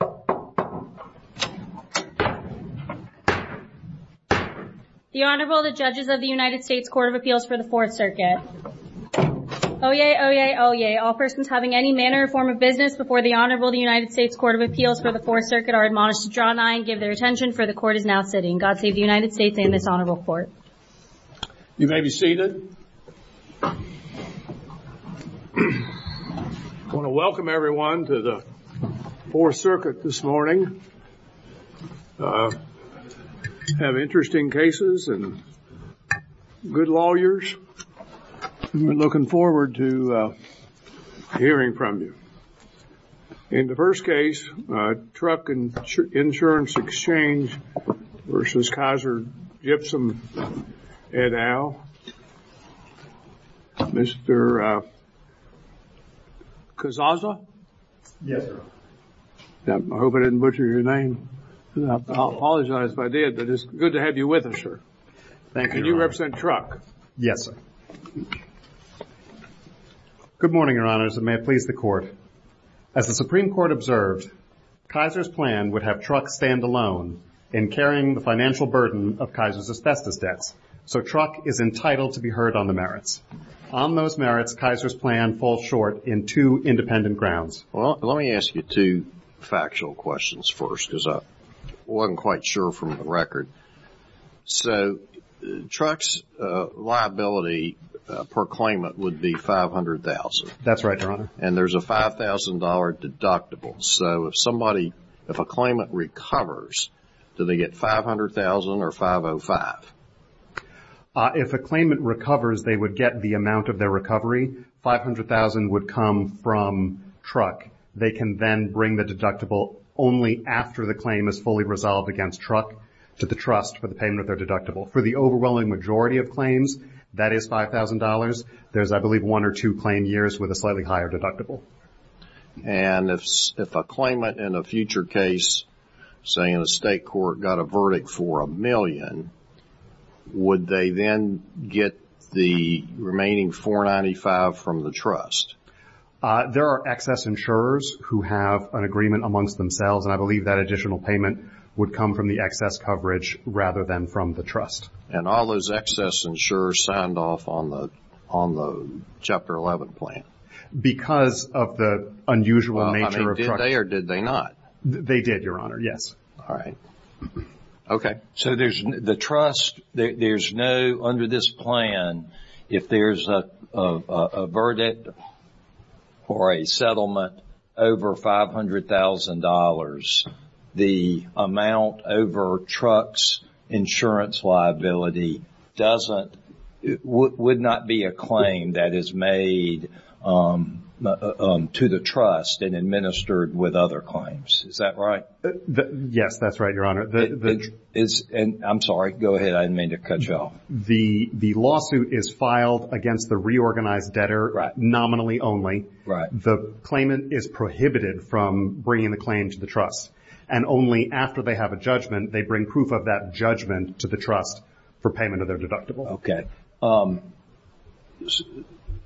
The Honorable, the Judges of the United States Court of Appeals for the Fourth Circuit. Oyez, oyez, oyez, all persons having any manner or form of business before the Honorable, the United States Court of Appeals for the Fourth Circuit are admonished to draw nigh and give their attention, for the Court is now sitting. God save the United States and this Honorable Court. You may be seated. I want to welcome everyone to the Fourth Circuit this morning. We have interesting cases and good lawyers. We're looking forward to hearing from you. In the first case, Truck Insurance Exchange v. Kaiser Gypsum et al., Mr. Kazaza? Yes, sir. I hope I didn't butcher your name. I apologize if I did, but it's good to have you with us, sir. Thank you, Your Honor. You represent Truck? Yes, sir. Good morning, Your Honors, and may it please the Court. As the Supreme Court observed, Kaiser's plan would have Truck stand alone in carrying the financial burden of Kaiser's asbestos debt, so Truck is entitled to be heard on the merits. On those merits, Kaiser's plan falls short in two independent grounds. Well, let me ask you two factual questions first, because I wasn't quite sure from the record. So Truck's liability per claimant would be $500,000. That's right, Your Honor. And there's a $5,000 deductible. So if a claimant recovers, do they get $500,000 or $505,000? If a claimant recovers, they would get the amount of their recovery. $500,000 would come from Truck. They can then bring the deductible only after the claim is fully resolved against Truck to the trust for the payment of their deductible. For the overwhelming majority of claims, that is $5,000. There's, I believe, one or two claim years with a slightly higher deductible. And if a claimant in a future case, say in a state court, got a verdict for a million, would they then get the remaining $495,000 from the trust? There are excess insurers who have an agreement amongst themselves. And I believe that additional payment would come from the excess coverage rather than from the trust. And all those excess insurers signed off on the Chapter 11 plan? Because of the unusual nature of Truck. Did they or did they not? They did, Your Honor, yes. All right. Okay. So the trust, there's no, under this plan, if there's a verdict for a settlement over $500,000, the amount over Truck's insurance liability doesn't, would not be a claim that is made to the trust and administered with other claims. Is that right? Yes, that's right, Your Honor. I'm sorry. Go ahead. I didn't mean to cut you off. The lawsuit is filed against the reorganized debtor nominally only. The claimant is prohibited from bringing the claim to the trust. And only after they have a judgment, they bring proof of that judgment to the trust for payment of their deductible. Okay.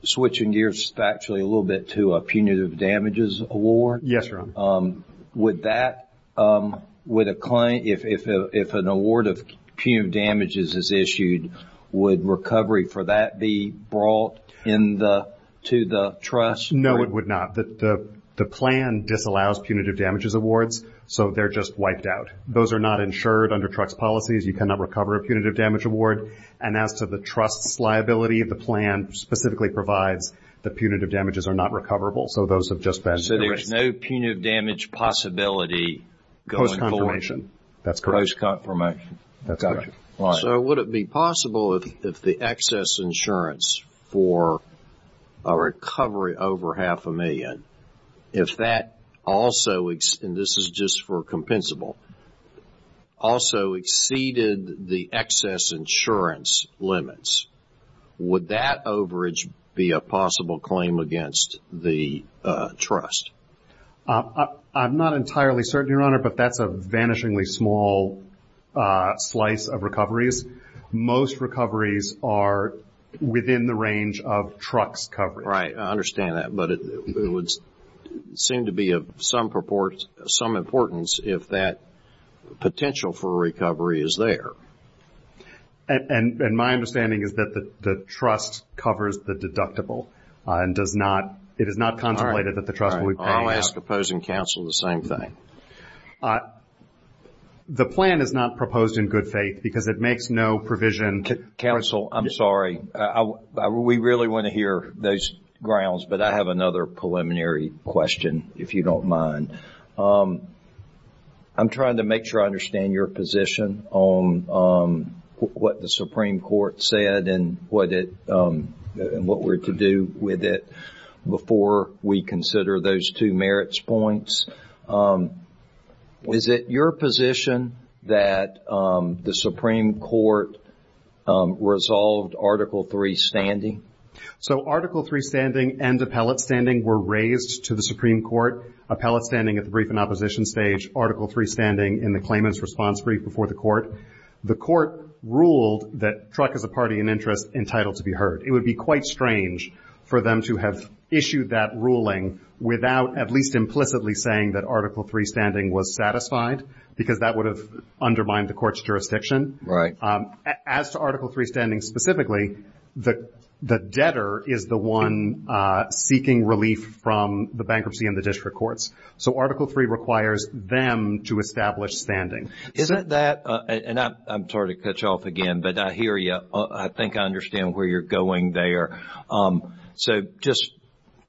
Switching gears actually a little bit to a punitive damages award. Yes, Your Honor. Would that, would a client, if an award of punitive damages is issued, would recovery for that be brought in the, to the trust? No, it would not. The plan disallows punitive damages awards, so they're just wiped out. Those are not insured under Truck's policies. You cannot recover a punitive damage award. And as to the trust's liability, the plan specifically provides that punitive damages are not recoverable. So there is no punitive damage possibility going forward? Post-confirmation. That's correct. Post-confirmation. So would it be possible if the excess insurance for a recovery over half a million, if that also, and this is just for compensable, also exceeded the excess insurance limits, would that overage be a possible claim against the trust? I'm not entirely certain, Your Honor, but that's a vanishingly small slice of recoveries. Most recoveries are within the range of Truck's coverage. Right. I understand that, but it would seem to be of some importance if that potential for recovery is there. And my understanding is that the trust covers the deductible and does not, it is not consolidated that the trust would pay. I'll ask opposing counsel the same thing. The plan is not proposed in good faith because it makes no provision. Counsel, I'm sorry. We really want to hear those grounds, but I have another preliminary question, if you don't mind. I'm trying to make sure I understand your position on what the Supreme Court said and what we're to do with it before we consider those two merits points. Is it your position that the Supreme Court resolved Article III standing? So, Article III standing and appellate standing were raised to the Supreme Court. Appellate standing at the brief and opposition stage. Article III standing in the claimant's response brief before the court. The court ruled that Truck is a party in interest entitled to be heard. It would be quite strange for them to have issued that ruling without at least implicitly saying that Article III standing was satisfied because that would have undermined the court's jurisdiction. As to Article III standing specifically, the debtor is the one seeking relief from the bankruptcy and the district courts. So, Article III requires them to establish standing. I'm sorry to cut you off again, but I hear you. I think I understand where you're going there. So, just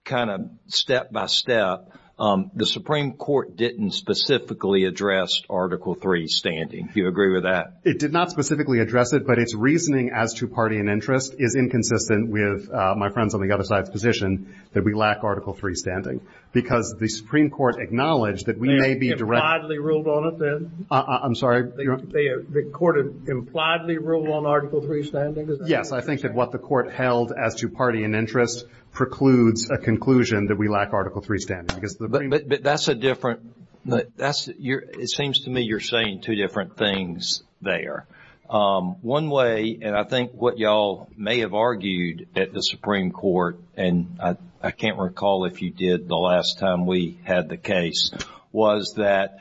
kind of step by step, the Supreme Court didn't specifically address Article III standing. Do you agree with that? It did not specifically address it, but its reasoning as to party in interest is inconsistent with my friend's on the other side's position that we lack Article III standing because the Supreme Court acknowledged that we may be directly I'm sorry. The court impliedly ruled on Article III standing? Yes, I think that what the court held as to party in interest precludes a conclusion that we lack Article III standing. But that's a different, it seems to me you're saying two different things there. One way, and I think what y'all may have argued at the Supreme Court, and I can't recall if you did the last time we had the case, was that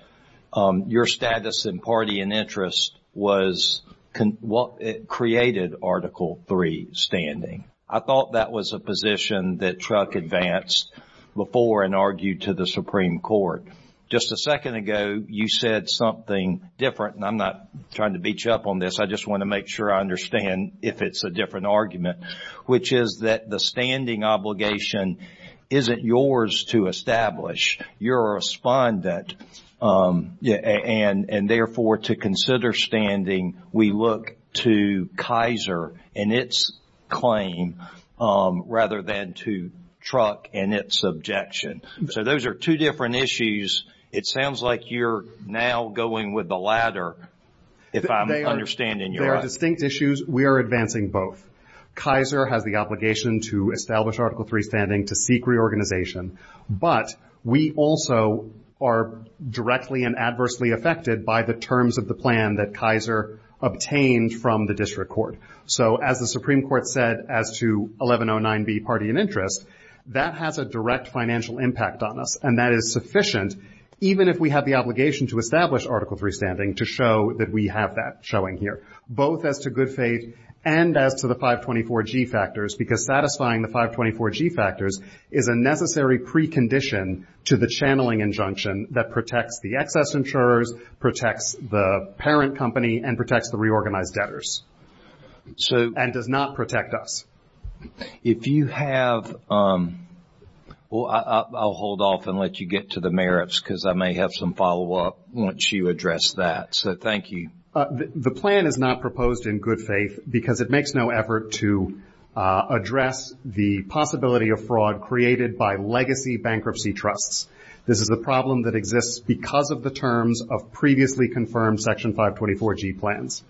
your status in party in interest created Article III standing. I thought that was a position that Truck advanced before and argued to the Supreme Court. Just a second ago, you said something different, and I'm not trying to beat you up on this, I just want to make sure I understand if it's a different argument, which is that the standing obligation isn't yours to establish. You're a respondent, and therefore to consider standing, we look to Kaiser and its claim rather than to Truck and its objection. So those are two different issues. It sounds like you're now going with the latter, if I'm understanding you right. They are distinct issues. We are advancing both. Kaiser has the obligation to establish Article III standing to seek reorganization, but we also are directly and adversely affected by the terms of the plan that Kaiser obtained from the district court. So as the Supreme Court said as to 1109B, party in interest, that has a direct financial impact on us, and that is sufficient even if we have the obligation to establish Article III standing to show that we have that showing here. Both as to good faith and as to the 524G factors, because satisfying the 524G factors is a necessary precondition to the channeling injunction that protects the excess insurers, protects the parent company, and protects the reorganized debtors, and does not protect us. If you have – well, I'll hold off and let you get to the merits, because I may have some follow-up once you address that. So thank you. The plan is not proposed in good faith because it makes no effort to address the possibility of fraud created by legacy bankruptcy trusts. This is a problem that exists because of the terms of previously confirmed Section 524G plans.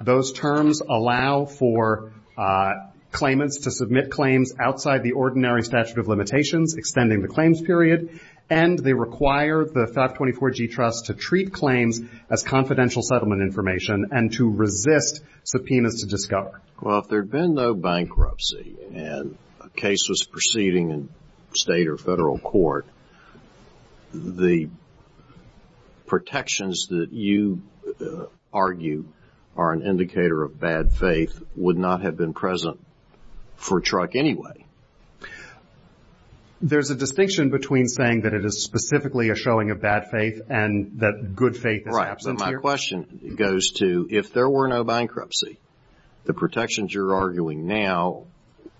Those terms allow for claimants to submit claims outside the ordinary statute of limitations, and they require the 524G trust to treat claims as confidential settlement information and to resist subpoenas to discover. Well, if there had been no bankruptcy and a case was proceeding in state or federal court, the protections that you argue are an indicator of bad faith would not have been present for a truck anyway. There's a distinction between saying that it is specifically a showing of bad faith and that good faith – Right. So my question goes to, if there were no bankruptcy, the protections you're arguing now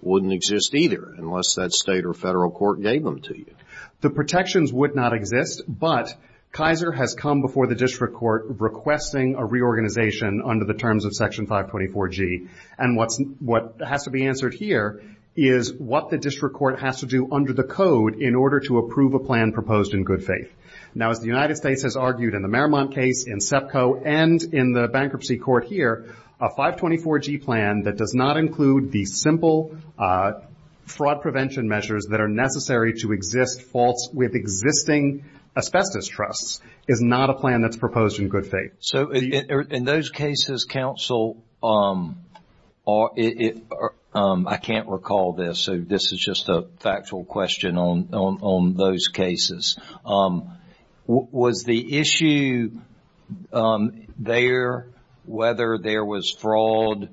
wouldn't exist either, unless that state or federal court gave them to you. The protections would not exist, but Kaiser has come before the district court requesting a reorganization under the terms of Section 524G, and what has to be answered here is what the district court has to do under the code in order to approve a plan proposed in good faith. Now, as the United States has argued in the Merrimont case, in SEPCO, and in the bankruptcy court here, a 524G plan that does not include the simple fraud prevention measures that are necessary to exist with existing asbestos trusts is not a plan that's proposed in good faith. So, in those cases, counsel, I can't recall this, so this is just a factual question on those cases. Was the issue there whether there was fraud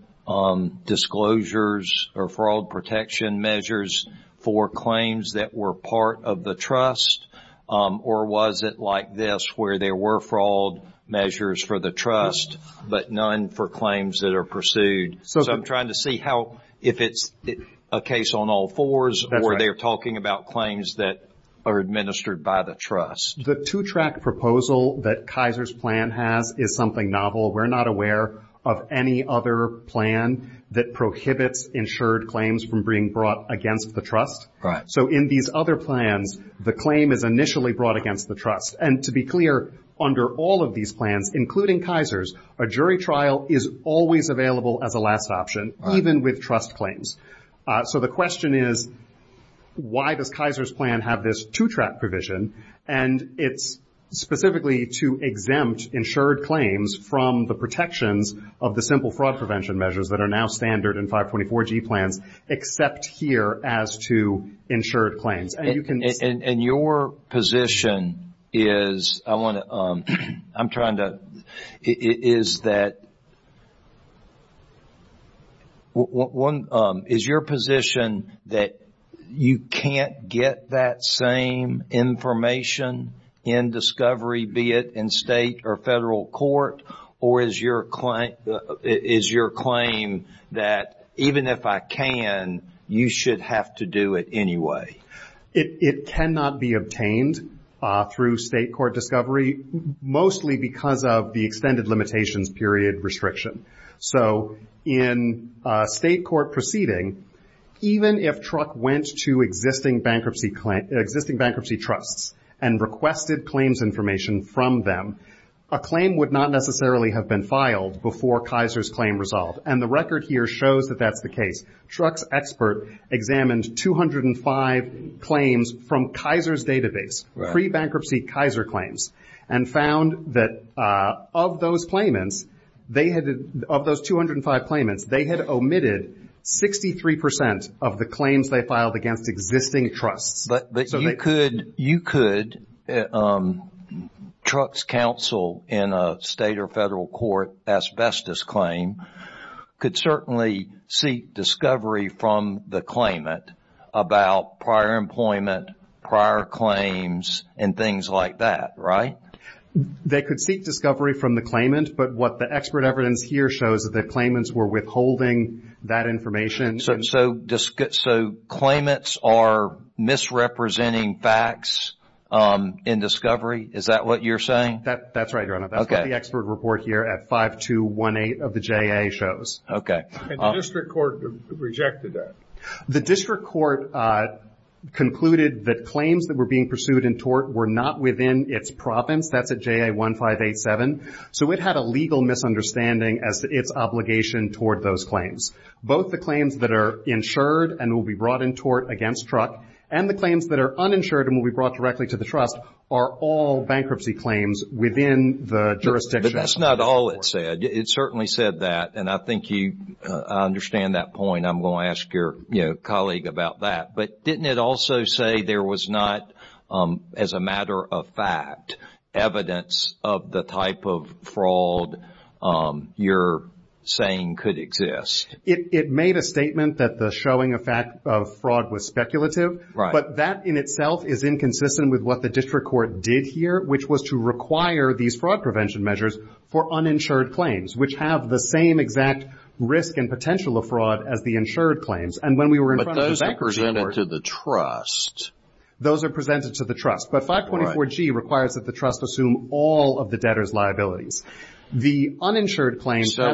disclosures or fraud protection measures for claims that were part of the trust, or was it like this, where there were fraud measures for the trust, but none for claims that are pursued? So I'm trying to see how – if it's a case on all fours, or they're talking about claims that are administered by the trust. The two-track proposal that Kaiser's plan has is something novel. We're not aware of any other plan that prohibits insured claims from being brought against the trust. Right. So in these other plans, the claim is initially brought against the trust. And to be clear, under all of these plans, including Kaiser's, a jury trial is always available as a last option, even with trust claims. So the question is, why does Kaiser's plan have this two-track provision, and it's specifically to exempt insured claims from the protections of the simple fraud prevention measures that are now standard in 524G plans, except here as to insured claims? And your position is – I want to – I'm trying to – is that – Is your position that you can't get that same information in discovery, be it in state or federal court, or is your claim that even if I can, you should have to do it anyway? It cannot be obtained through state court discovery, mostly because of the extended limitations period restriction. So in state court proceeding, even if TRUC went to existing bankruptcy trusts and requested claims information from them, a claim would not necessarily have been filed before Kaiser's claim resolved. And the record here shows that that's the case. TRUC's expert examined 205 claims from Kaiser's database, pre-bankruptcy Kaiser claims, and found that of those claimants, they had – of those 205 claimants, they had omitted 63% of the claims they filed against existing trusts. But you could – you could – TRUC's counsel in a state or federal court asbestos claim could certainly seek discovery from the claimant about prior employment, prior claims, and things like that, right? They could seek discovery from the claimant, but what the expert evidence here shows is that the claimants were withholding that information. So claimants are misrepresenting facts in discovery? Is that what you're saying? That's right, Your Honor. That's what the expert report here at 5218 of the JA shows. Okay. And the district court rejected that? The district court concluded that claims that were being pursued in tort were not within its province at the JA 1587, so it had a legal misunderstanding as to its obligation toward those claims. Both the claims that are insured and will be brought in tort against TRUC and the claims that are uninsured and will be brought directly to the trust are all bankruptcy claims within the jurisdiction. But that's not all it said. It certainly said that, and I think you understand that point. I'm going to ask your, you know, colleague about that. But didn't it also say there was not, as a matter of fact, evidence of the type of fraud you're saying could exist? It made a statement that the showing of fact of fraud was speculative, but that in itself is inconsistent with what the district court did here, which was to require these fraud prevention measures for uninsured claims, which have the same exact risk and potential of fraud as the insured claims. But those are presented to the trust. Those are presented to the trust, but 524G requires that the trust assume all of the debtor's liabilities. So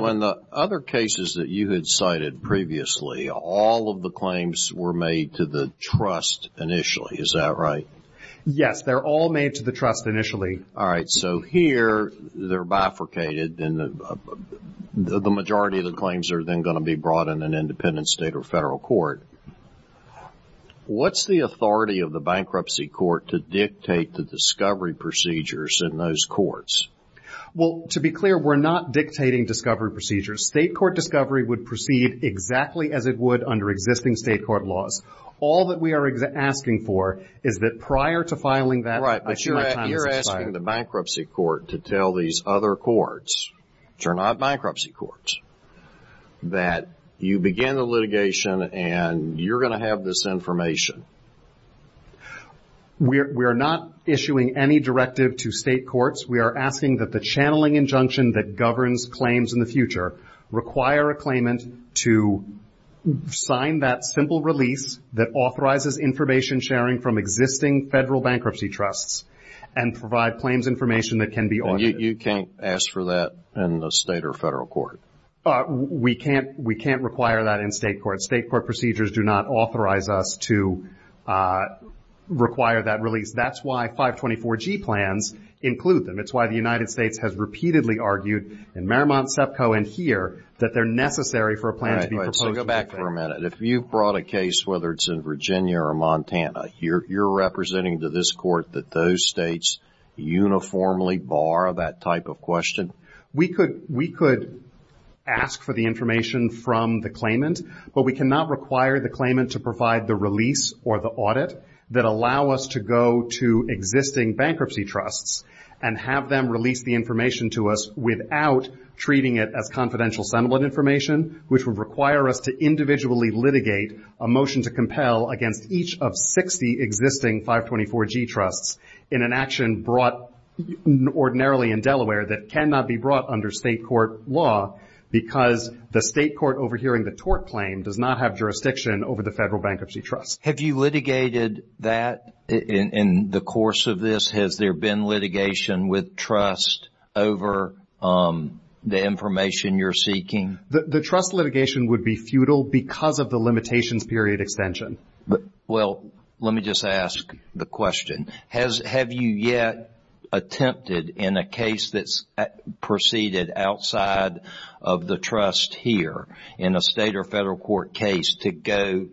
in the other cases that you had cited previously, all of the claims were made to the trust initially, is that right? Yes, they're all made to the trust initially. All right, so here they're bifurcated, and the majority of the claims are then going to be brought in an independent state or federal court. What's the authority of the bankruptcy court to dictate the discovery procedures in those courts? Well, to be clear, we're not dictating discovery procedures. State court discovery would proceed exactly as it would under existing state court laws. All that we are asking for is that prior to filing that... Right, but you're asking the bankruptcy court to tell these other courts, which are not bankruptcy courts, that you began the litigation and you're going to have this information. We are not issuing any directive to state courts. We are asking that the channeling injunction that governs claims in the future require a claimant to sign that simple release that authorizes information sharing from existing federal bankruptcy trusts and provide claims information that can be audited. You can't ask for that in the state or federal court? We can't require that in state court. State court procedures do not authorize us to require that release. That's why 524G plans include them. It's why the United States has repeatedly argued in Marymount, SEPCO, and here that they're necessary for a plan to be proposed. So go back for a minute. If you brought a case, whether it's in Virginia or Montana, you're representing to this court that those states uniformly bar that type of question? We could ask for the information from the claimant, but we cannot require the claimant to provide the release or the audit that allow us to go to existing bankruptcy trusts and have them release the information to us without treating it as confidential settlement information, which would require us to individually litigate a motion to compel against each of 60 existing 524G trusts in an action brought ordinarily in Delaware that cannot be brought under state court law because the state court overhearing the tort claim does not have jurisdiction over the federal bankruptcy trust. Have you litigated that in the course of this? Has there been litigation with trust over the information you're seeking? The trust litigation would be futile because of the limitation period extension. Well, let me just ask the question. Have you yet attempted in a case that's proceeded outside of the trust here in a state or federal court case to go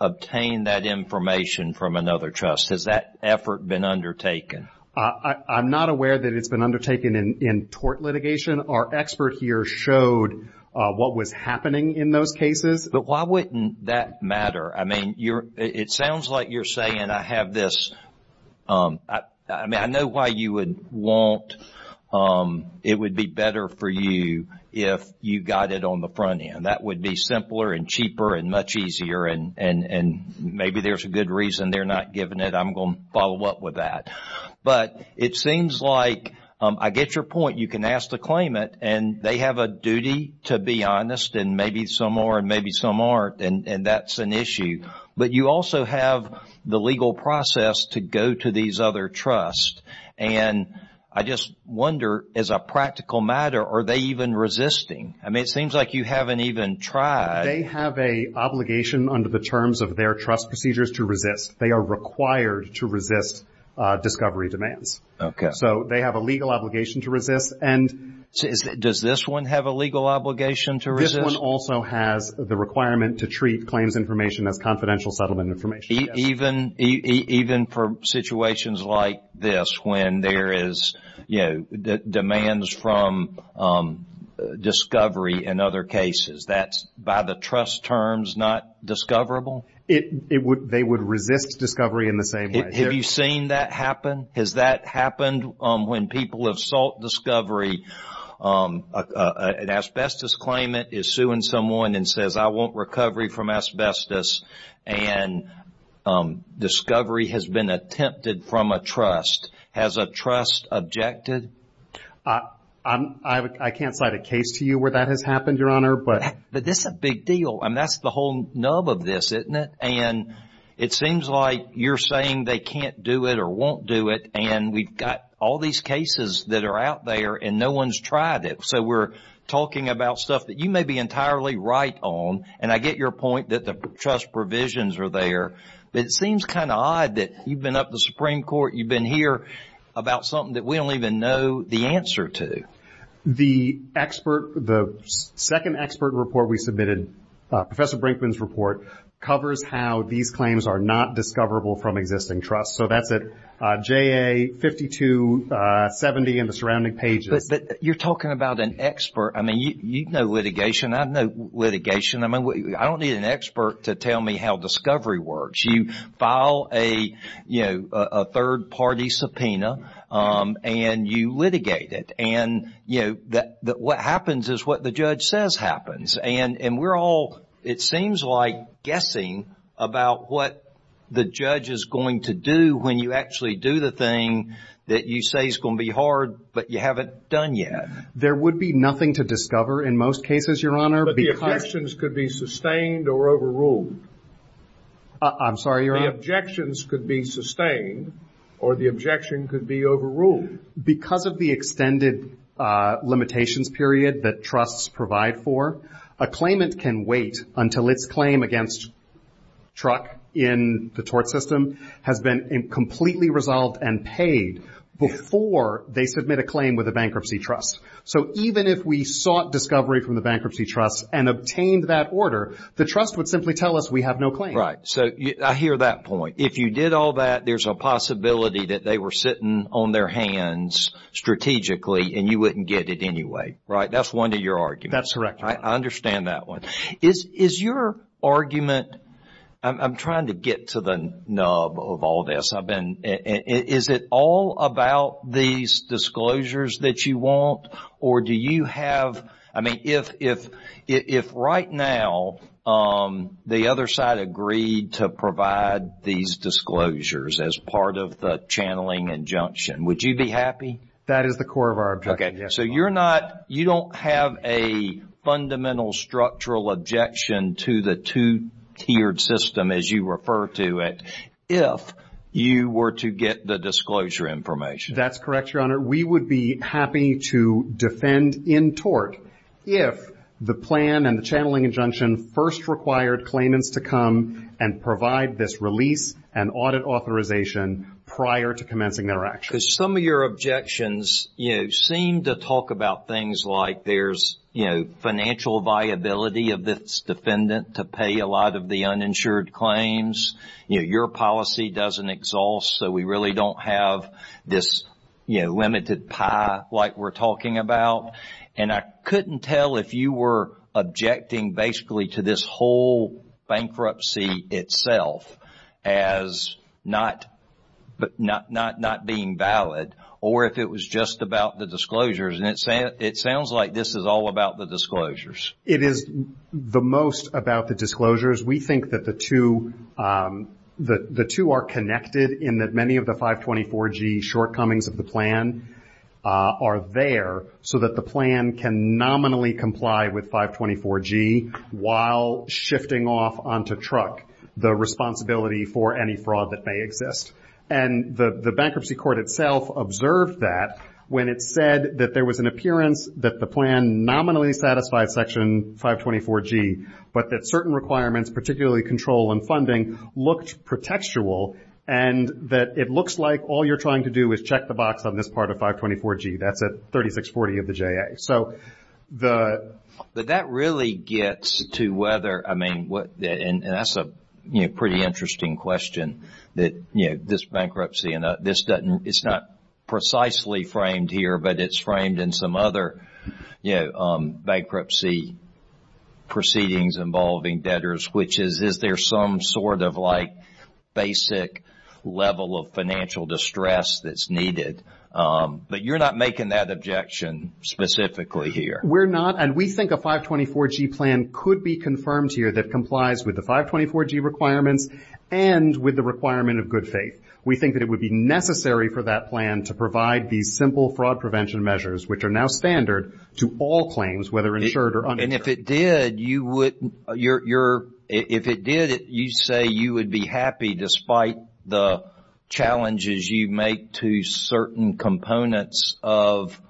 obtain that information from another trust? Has that effort been undertaken? I'm not aware that it's been undertaken in tort litigation. Our experts here showed what was happening in those cases. But why wouldn't that matter? I mean, it sounds like you're saying I have this. I mean, I know why you would want it would be better for you if you got it on the front end. That would be simpler and cheaper and much easier, and maybe there's a good reason they're not giving it. I'm going to follow up with that. But it seems like I get your point. You can ask to claim it, and they have a duty to be honest, and maybe some are and maybe some aren't, and that's an issue. But you also have the legal process to go to these other trusts. And I just wonder, as a practical matter, are they even resisting? I mean, it seems like you haven't even tried. They have an obligation under the terms of their trust procedures to resist. They are required to resist discovery demands. So they have a legal obligation to resist. Does this one have a legal obligation to resist? This one also has the requirement to treat claims information as confidential settlement information. Even for situations like this when there is, you know, demands from discovery in other cases, that's by the trust terms not discoverable? They would resist discovery in the same way. Have you seen that happen? Has that happened when people have sought discovery? An asbestos claimant is suing someone and says, I want recovery from asbestos, and discovery has been attempted from a trust. Has a trust objected? I can't cite a case to you where that has happened, Your Honor, but that's a big deal. I mean, that's the whole nub of this, isn't it? And it seems like you're saying they can't do it or won't do it, and we've got all these cases that are out there and no one's tried it. So we're talking about stuff that you may be entirely right on, and I get your point that the trust provisions are there, but it seems kind of odd that you've been up to the Supreme Court, you've been here about something that we don't even know the answer to. The expert, the second expert report we submitted, Professor Brinkman's report, covers how these claims are not discoverable from existing trusts. So that's at JA 5270 and the surrounding pages. But you're talking about an expert. I mean, you know litigation. I know litigation. I mean, I don't need an expert to tell me how discovery works. You file a third-party subpoena and you litigate it. And what happens is what the judge says happens. And we're all, it seems like, guessing about what the judge is going to do when you actually do the thing that you say is going to be hard but you haven't done yet. There would be nothing to discover in most cases, Your Honor. But the objections could be sustained or overruled. I'm sorry, Your Honor. The objections could be sustained or the objection could be overruled. Because of the extended limitations period that trusts provide for, a claimant can wait until its claim against truck in the tort system has been completely resolved and paid before they submit a claim with a bankruptcy trust. So even if we sought discovery from the bankruptcy trust and obtained that order, the trust would simply tell us we have no claim. So I hear that point. If you did all that, there's a possibility that they were sitting on their hands strategically and you wouldn't get it anyway, right? That's one of your arguments. That's correct. I understand that one. Is your argument, I'm trying to get to the nub of all this. Is it all about these disclosures that you want or do you have, I mean, if right now the other side agreed to provide these disclosures as part of the channeling injunction, would you be happy? That is the core of our objection. So you're not, you don't have a fundamental structural objection to the two-tiered system as you refer to it if you were to get the disclosure information. That's correct, Your Honor. We would be happy to defend in tort. If the plan and the channeling injunction first required claimants to come and provide this release and audit authorization prior to commencing their action. Because some of your objections, you know, seem to talk about things like there's, you know, financial viability of this defendant to pay a lot of the uninsured claims. You know, your policy doesn't exhaust so we really don't have this, you know, limited pie like we're talking about. And I couldn't tell if you were objecting basically to this whole bankruptcy itself as not being valid or if it was just about the disclosures. And it sounds like this is all about the disclosures. It is the most about the disclosures. We think that the two are connected in that many of the 524G shortcomings of the plan are there so that the plan can nominally comply with 524G while shifting off onto truck the responsibility for any fraud that may exist. And the bankruptcy court itself observed that when it said that there was an appearance that the plan nominally satisfied Section 524G but that certain requirements, particularly control and funding, looked pretextual and that it looks like all you're trying to do is check the box on this part of 524G. That's at 3640 of the JA. But that really gets to whether, I mean, and that's a pretty interesting question that, you know, this bankruptcy and this doesn't, it's not precisely framed here but it's framed in some other, you know, bankruptcy proceedings involving debtors which is if there's some sort of like basic level of financial distress that's needed. But you're not making that objection specifically here. We're not. And we think a 524G plan could be confirmed here that complies with the 524G requirements and with the requirement of good faith. We think that it would be necessary for that plan to provide these simple fraud prevention measures which are now standard to all claims whether insured or uninsured. And if it did, you say you would be happy despite the challenges you make to certain components of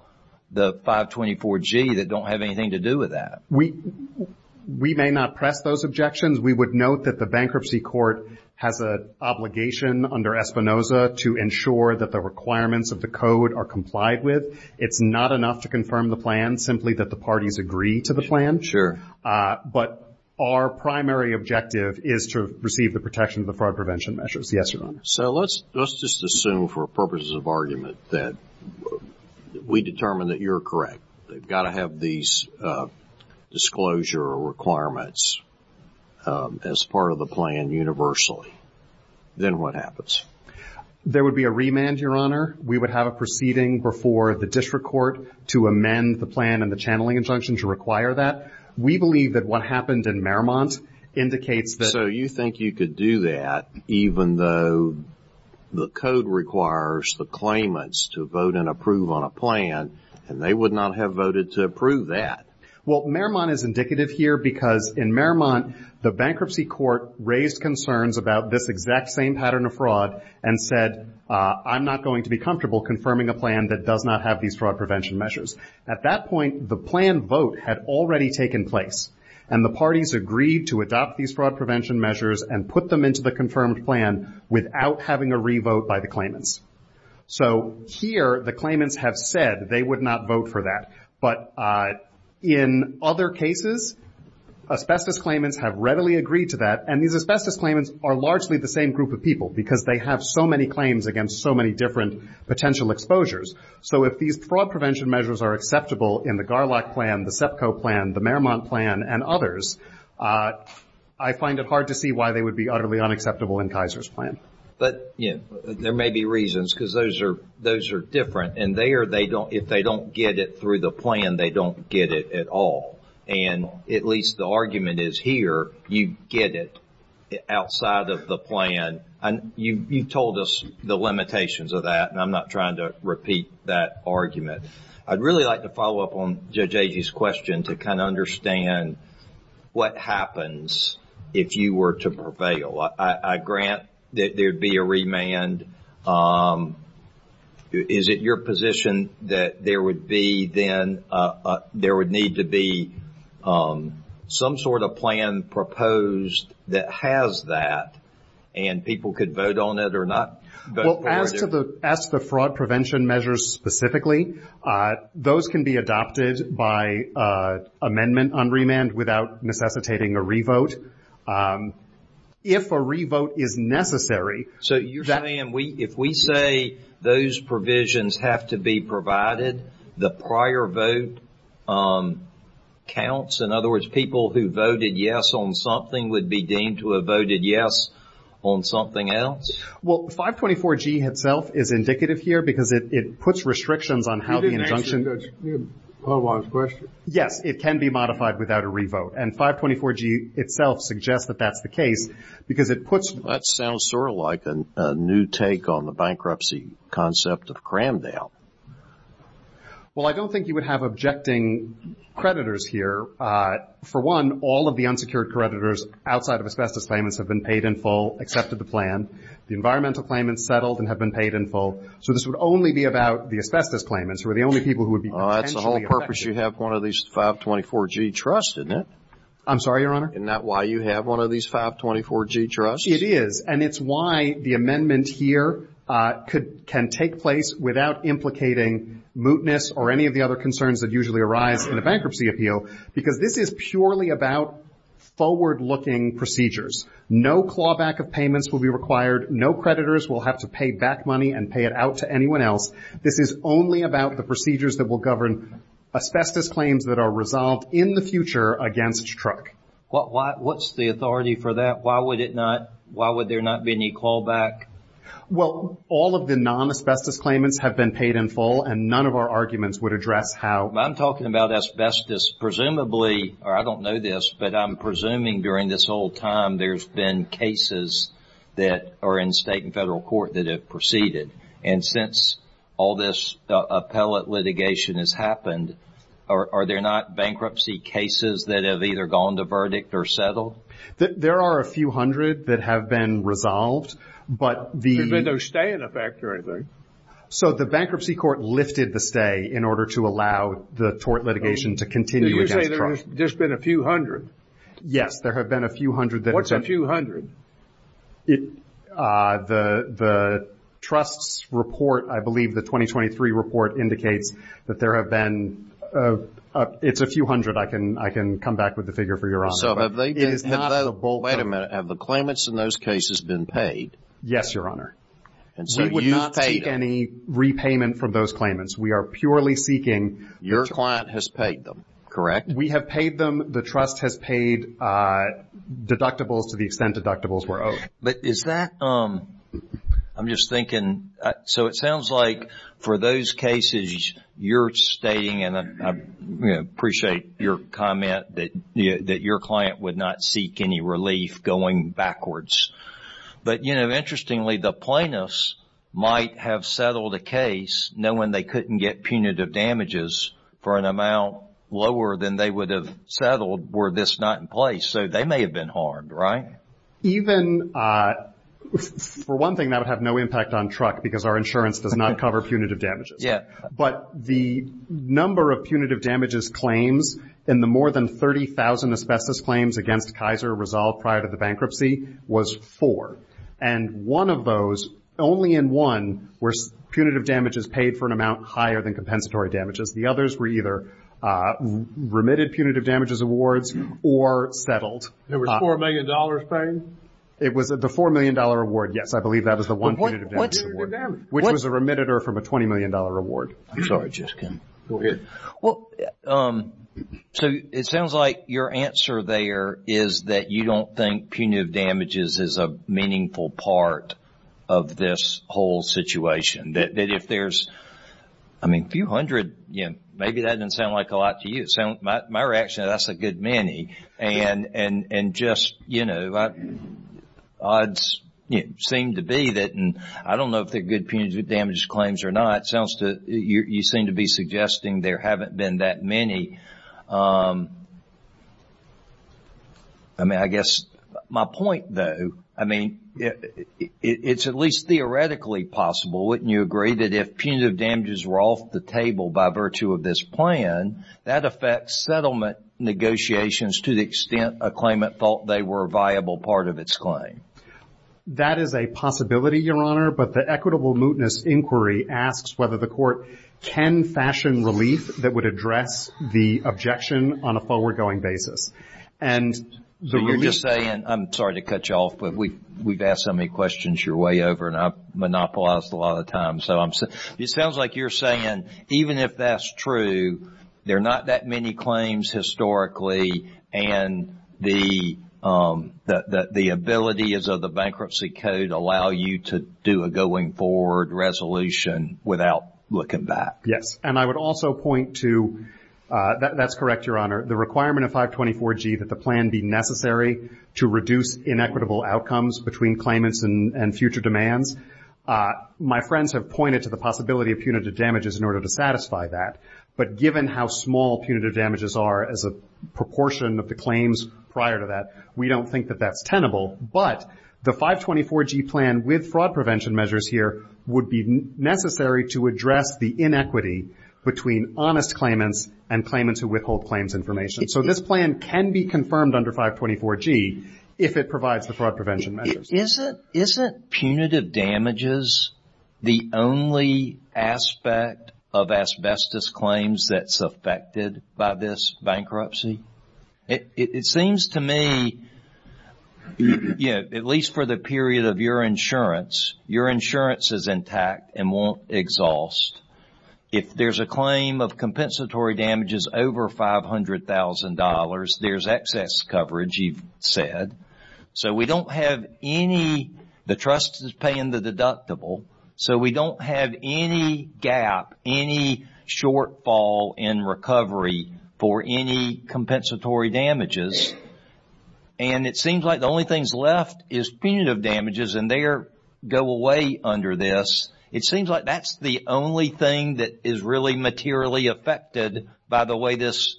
the 524G that don't have anything to do with that. We may not press those objections. We would note that the bankruptcy court has an obligation under Espinoza to ensure that the requirements of the code are complied with. It's not enough to confirm the plan, simply that the parties agree to the plan. But our primary objective is to receive the protection of the fraud prevention measures. Yes, Your Honor. So let's just assume for purposes of argument that we determine that you're correct. They've got to have these disclosure requirements as part of the plan universally. Then what happens? There would be a remand, Your Honor. We would have a proceeding before the district court to amend the plan and the channeling injunction to require that. We believe that what happened in Merrimont indicates that... So you think you could do that even though the code requires the claimants to vote and approve on a plan and they would not have voted to approve that. Well, Merrimont is indicative here because in Merrimont, the bankruptcy court raised concerns about this exact same pattern of fraud and said, I'm not going to be comfortable confirming a plan that does not have these fraud prevention measures. At that point, the plan vote had already taken place, and the parties agreed to adopt these fraud prevention measures and put them into the confirmed plan without having a re-vote by the claimants. So here, the claimants have said they would not vote for that. But in other cases, asbestos claimants have readily agreed to that, and these asbestos claimants are largely the same group of people because they have so many claims against so many different potential exposures. So if these fraud prevention measures are acceptable in the Garlack plan, the Tsepko plan, the Merrimont plan, and others, I find it hard to see why they would be utterly unacceptable in Kaiser's plan. But there may be reasons because those are different, and if they don't get it through the plan, they don't get it at all. And at least the argument is here, you get it outside of the plan. You've told us the limitations of that, and I'm not trying to repeat that argument. I'd really like to follow up on Judge Agee's question to kind of understand what happens if you were to prevail. I grant that there would be a remand. Is it your position that there would need to be some sort of plan proposed that has that, and people could vote on it or not vote for it? Well, as to the fraud prevention measures specifically, those can be adopted by amendment on remand without necessitating a revote. If a revote is necessary. So, you're saying if we say those provisions have to be provided, the prior vote counts? In other words, people who voted yes on something would be deemed to have voted yes on something else? Well, 524G itself is indicative here because it puts restrictions on how the injunction. You didn't mention that you had a follow-on question. Yes, it can be modified without a revote. And 524G itself suggests that that's the case because it puts. That sounds sort of like a new take on the bankruptcy concept of Cramdale. Well, I don't think you would have objecting creditors here. For one, all of the unsecured creditors outside of asbestos payments have been paid in full, accepted the plan. The environmental claimants settled and have been paid in full. So, this would only be about the asbestos claimants who are the only people who would be potentially affected. In other words, you have one of these 524G trusts, isn't it? I'm sorry, Your Honor? Isn't that why you have one of these 524G trusts? It is. And it's why the amendment here can take place without implicating mootness or any of the other concerns that usually arise in a bankruptcy appeal. Because this is purely about forward-looking procedures. No clawback of payments will be required. No creditors will have to pay back money and pay it out to anyone else. This is only about the procedures that will govern asbestos claims that are resolved in the future against truck. What's the authority for that? Why would it not? Why would there not be any clawback? Well, all of the non-asbestos claimants have been paid in full, and none of our arguments would address how. I'm talking about asbestos. Presumably, or I don't know this, but I'm presuming during this whole time there's been cases that are in state and federal court that have proceeded. And since all this appellate litigation has happened, are there not bankruptcy cases that have either gone to verdict or settled? There are a few hundred that have been resolved, but the... Has there been a stay in effect or anything? So, the bankruptcy court lifted the stay in order to allow the tort litigation to continue against truck. Did you say there's been a few hundred? Yes, there have been a few hundred that have been... What's a few hundred? The trust's report, I believe the 2023 report, indicates that there have been... It's a few hundred. I can come back with the figure for you, Your Honor. So, have they been... Well, wait a minute. Have the claimants in those cases been paid? Yes, Your Honor. And so, you paid them. We would not seek any repayment from those claimants. We are purely seeking... Your client has paid them, correct? We have paid them. The trust has paid deductibles to the extent deductibles were owed. But is that... I'm just thinking... So, it sounds like for those cases, you're stating, and I appreciate your comment, that your client would not seek any relief going backwards. But, you know, interestingly, the plaintiffs might have settled a case knowing they couldn't get punitive damages for an amount lower than they would have settled were this not in place. So, they may have been harmed, right? Even... For one thing, that would have no impact on Truck because our insurance does not cover punitive damages. Yeah. But the number of punitive damages claims in the more than 30,000 asbestos claims against Kaiser Resolve prior to the bankruptcy was four. And one of those, only in one, were punitive damages paid for an amount higher than compensatory damages. The others were either remitted punitive damages awards or settled. It was a $4 million claim? It was the $4 million award, yes. I believe that was the one punitive damages award. Which was a remitted or from a $20 million award. I'm sorry, Jessica. Go ahead. Well, so it sounds like your answer there is that you don't think punitive damages is a meaningful part of this whole situation. That if there's, I mean, a few hundred, maybe that doesn't sound like a lot to you. My reaction is that's a good many. And just, you know, odds seem to be that, and I don't know if they're good punitive damages claims or not, you seem to be suggesting there haven't been that many. I mean, I guess my point, though, I mean, it's at least theoretically possible, wouldn't you agree, that if punitive damages were off the table by virtue of this plan, that affects settlement negotiations to the extent a claimant thought they were a viable part of its claim. That is a possibility, Your Honor, but the equitable mootness inquiry asks whether the court can fashion relief that would address the objection on a forward-going basis. You're just saying, I'm sorry to cut you off, but we've asked so many questions your way over, and I've monopolized a lot of time, so it sounds like you're saying even if that's true, there are not that many claims historically, and the abilities of the bankruptcy code allow you to do a going-forward resolution without looking back. Yes, and I would also point to, that's correct, Your Honor, the requirement of 524G that the plan be necessary to reduce inequitable outcomes between claimants and future demands. My friends have pointed to the possibility of punitive damages in order to satisfy that, but given how small punitive damages are as a proportion of the claims prior to that, we don't think that that's tenable, but the 524G plan with fraud prevention measures here would be necessary to address the inequity between honest claimants and claimants who withhold claims information. So this plan can be confirmed under 524G if it provides for fraud prevention measures. Isn't punitive damages the only aspect of asbestos claims that's affected by this bankruptcy? It seems to me, at least for the period of your insurance, your insurance is intact and won't exhaust. If there's a claim of compensatory damages over $500,000, there's excess coverage, you've said. So we don't have any, the trust is paying the deductible, so we don't have any gap, any shortfall in recovery for any compensatory damages. And it seems like the only thing left is punitive damages, and they go away under this. It seems like that's the only thing that is really materially affected by the way this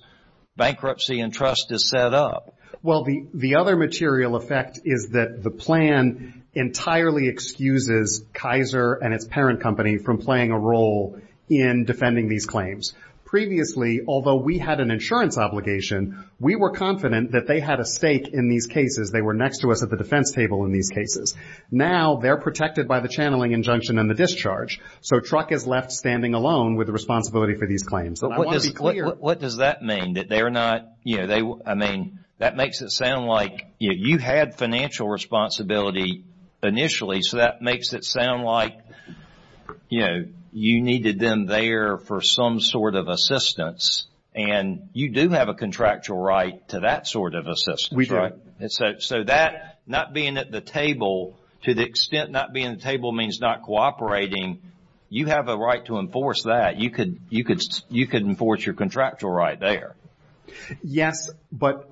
bankruptcy and trust is set up. Well, the other material effect is that the plan entirely excuses Kaiser and its parent company from playing a role in defending these claims. Previously, although we had an insurance obligation, we were confident that they had a stake in these cases. They were next to us at the defense table in these cases. Now they're protected by the channeling injunction and the discharge, so Truck is left standing alone with the responsibility for these claims. What does that mean, that they're not, you know, I mean that makes it sound like you had financial responsibility initially, so that makes it sound like, you know, you needed them there for some sort of assistance, and you do have a contractual right to that sort of assistance. We do. So that, not being at the table, to the extent not being at the table means not cooperating, you have a right to enforce that. You could enforce your contractual right there. Yes, but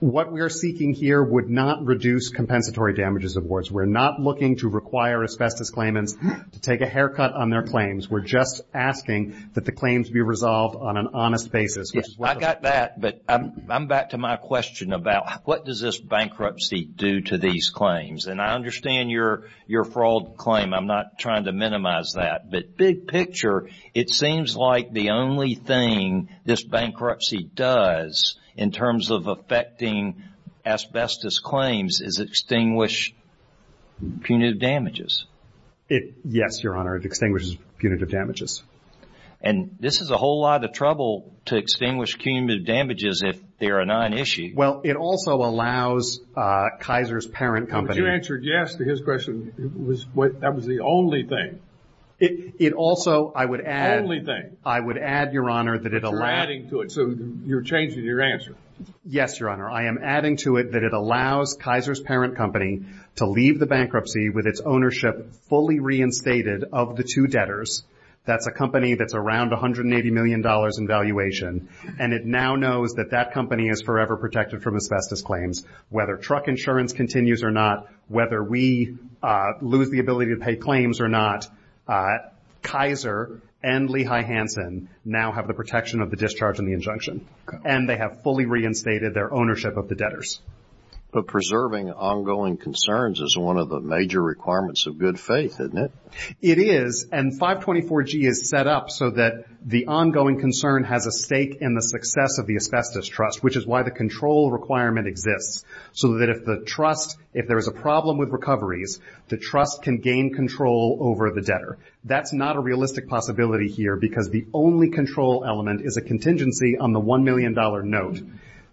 what we're seeking here would not reduce compensatory damages, of course. We're not looking to require asbestos claimants to take a haircut on their claims. We're just asking that the claims be resolved on an honest basis. I got that, but I'm back to my question about what does this bankruptcy do to these claims, and I understand your fraud claim. I'm not trying to minimize that, but big picture, it seems like the only thing this bankruptcy does in terms of affecting asbestos claims is extinguish punitive damages. Yes, Your Honor, it extinguishes punitive damages. And this is a whole lot of trouble to extinguish punitive damages if they're a non-issue. Well, it also allows Kaiser's parent company to But you answered yes to his question. That was the only thing. It also, I would add, Only thing. I would add, Your Honor, that it allows You're adding to it, so you're changing your answer. Yes, Your Honor, I am adding to it that it allows Kaiser's parent company to leave the bankruptcy with its ownership fully reinstated of the two debtors. That's a company that's around $180 million in valuation, and it now knows that that company is forever protected from asbestos claims. Whether truck insurance continues or not, whether we lose the ability to pay claims or not, Kaiser and Lehigh Hansen now have the protection of the discharge and the injunction, and they have fully reinstated their ownership of the debtors. But preserving ongoing concerns is one of the major requirements of good faith, isn't it? It is, and 524G is set up so that the ongoing concern has a stake in the success of the asbestos trust, which is why the control requirement exists, so that if there is a problem with recoveries, the trust can gain control over the debtor. That's not a realistic possibility here, because the only control element is a contingency on the $1 million note.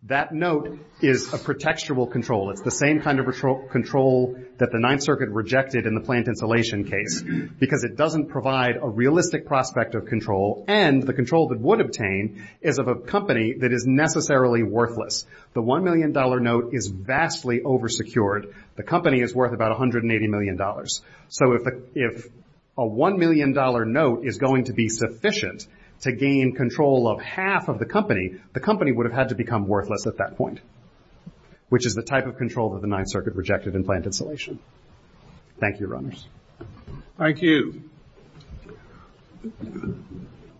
That note is a protectable control. It's the same kind of control that the Ninth Circuit rejected in the plant insulation case, because it doesn't provide a realistic prospect of control, and the control that would obtain is of a company that is necessarily worthless. The $1 million note is vastly oversecured. The company is worth about $180 million. So if a $1 million note is going to be sufficient to gain control of half of the company, the company would have had to become worthless at that point, which is the type of control that the Ninth Circuit rejected in plant insulation. Thank you, runners. Thank you.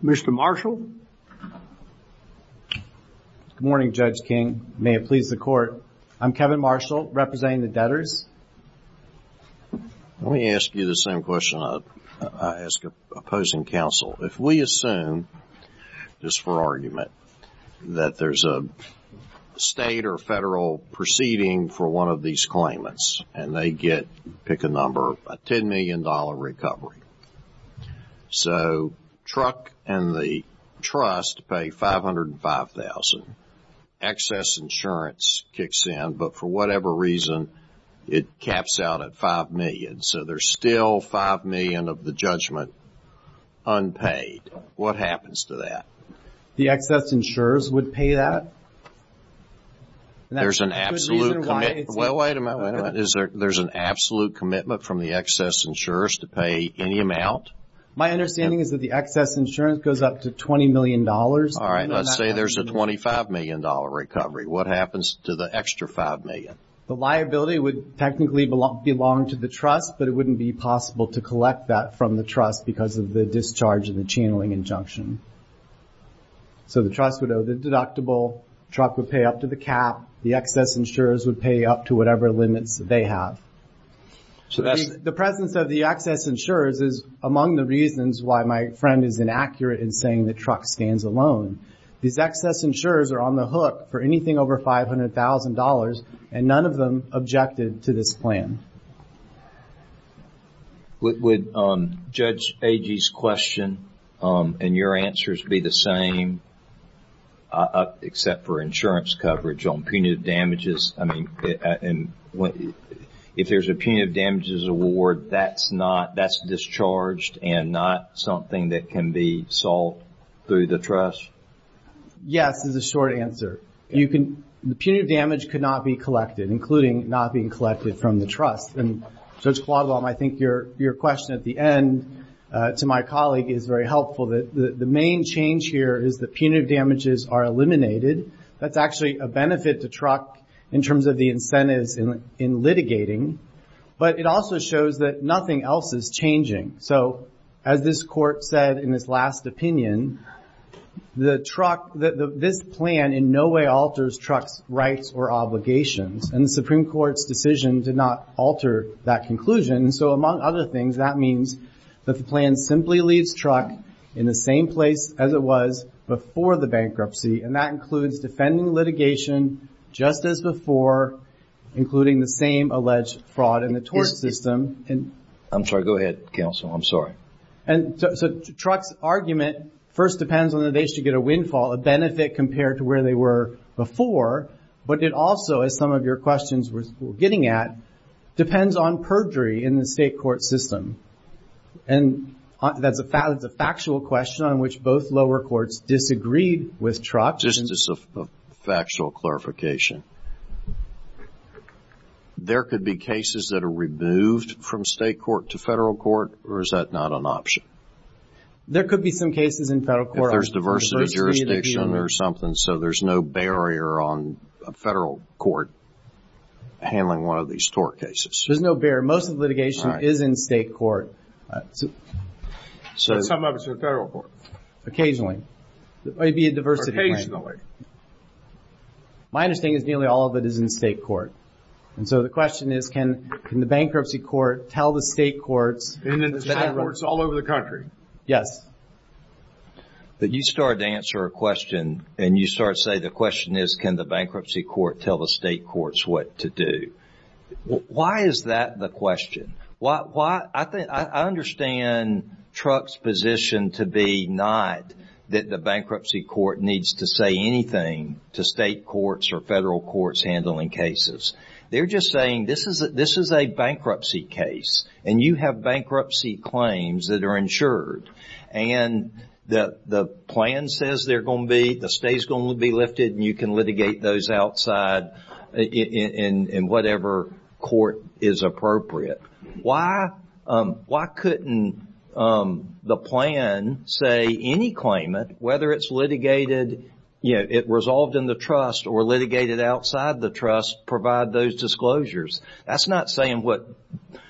Mr. Marshall? Good morning, Judge King. May it please the Court. I'm Kevin Marshall, representing the debtors. Let me ask you the same question I ask opposing counsel. If we assume, just for argument, that there's a state or federal proceeding for one of these claimants, and they pick a number, a $10 million recovery. So truck and the trust pay $505,000. Excess insurance kicks in, but for whatever reason, it caps out at $5 million. So there's still $5 million of the judgment unpaid. What happens to that? The excess insurers would pay that. There's an absolute commitment from the excess insurers to pay any amount? My understanding is that the excess insurance goes up to $20 million. All right. Let's say there's a $25 million recovery. What happens to the extra $5 million? The liability would technically belong to the trust, but it wouldn't be possible to collect that from the trust because of the discharge and the channeling injunction. So the trust would owe the deductible. The truck would pay up to the cap. The excess insurers would pay up to whatever limit they have. The presence of the excess insurers is among the reasons why my friend is inaccurate in saying the truck stands alone. These excess insurers are on the hook for anything over $500,000, and none of them objected to this plan. Would Judge Agee's question and your answers be the same, except for insurance coverage on punitive damages? I mean, if there's a punitive damages award, that's discharged and not something that can be solved through the trust? Yes, is the short answer. The punitive damage cannot be collected, including not being collected from the trust. And, Judge Claudelum, I think your question at the end, to my colleague, is very helpful. The main change here is that punitive damages are eliminated. That's actually a benefit to truck in terms of the incentives in litigating. But it also shows that nothing else is changing. So, as this court said in its last opinion, the truck, this plan in no way alters truck rights or obligations. And the Supreme Court's decision did not alter that conclusion. So, among other things, that means that the plan simply leaves truck in the same place as it was before the bankruptcy. And that includes defending litigation just as before, including the same alleged fraud in the tort system. I'm sorry. Go ahead, counsel. I'm sorry. And so, truck's argument first depends on whether they should get a windfall, a benefit compared to where they were before. But it also, as some of your questions were getting at, depends on perjury in the state court system. And that the fact is a factual question on which both lower courts disagreed with truck. This is a factual clarification. There could be cases that are removed from state court to federal court, or is that not an option? There could be some cases in federal court. There's diversity jurisdiction or something, so there's no barrier on a federal court handling one of these tort cases. There's no barrier. Most of the litigation is in state court. Some of it's in federal court. Occasionally. Occasionally. My understanding is nearly all of it is in state court. And so, the question is, can the bankruptcy court tell the state court... In other words, all over the country. Yes. But you started to answer a question, and you started to say the question is, can the bankruptcy court tell the state courts what to do? Why is that the question? I understand truck's position to be not that the bankruptcy court needs to say anything to state courts or federal courts handling cases. They're just saying, this is a bankruptcy case, and you have bankruptcy claims that are insured. And the plan says they're going to be, the state's going to be lifted, and you can litigate those outside in whatever court is appropriate. Why couldn't the plan say any claimant, whether it's litigated, you know, it resolved in the trust or litigated outside the trust, provide those disclosures? That's not saying what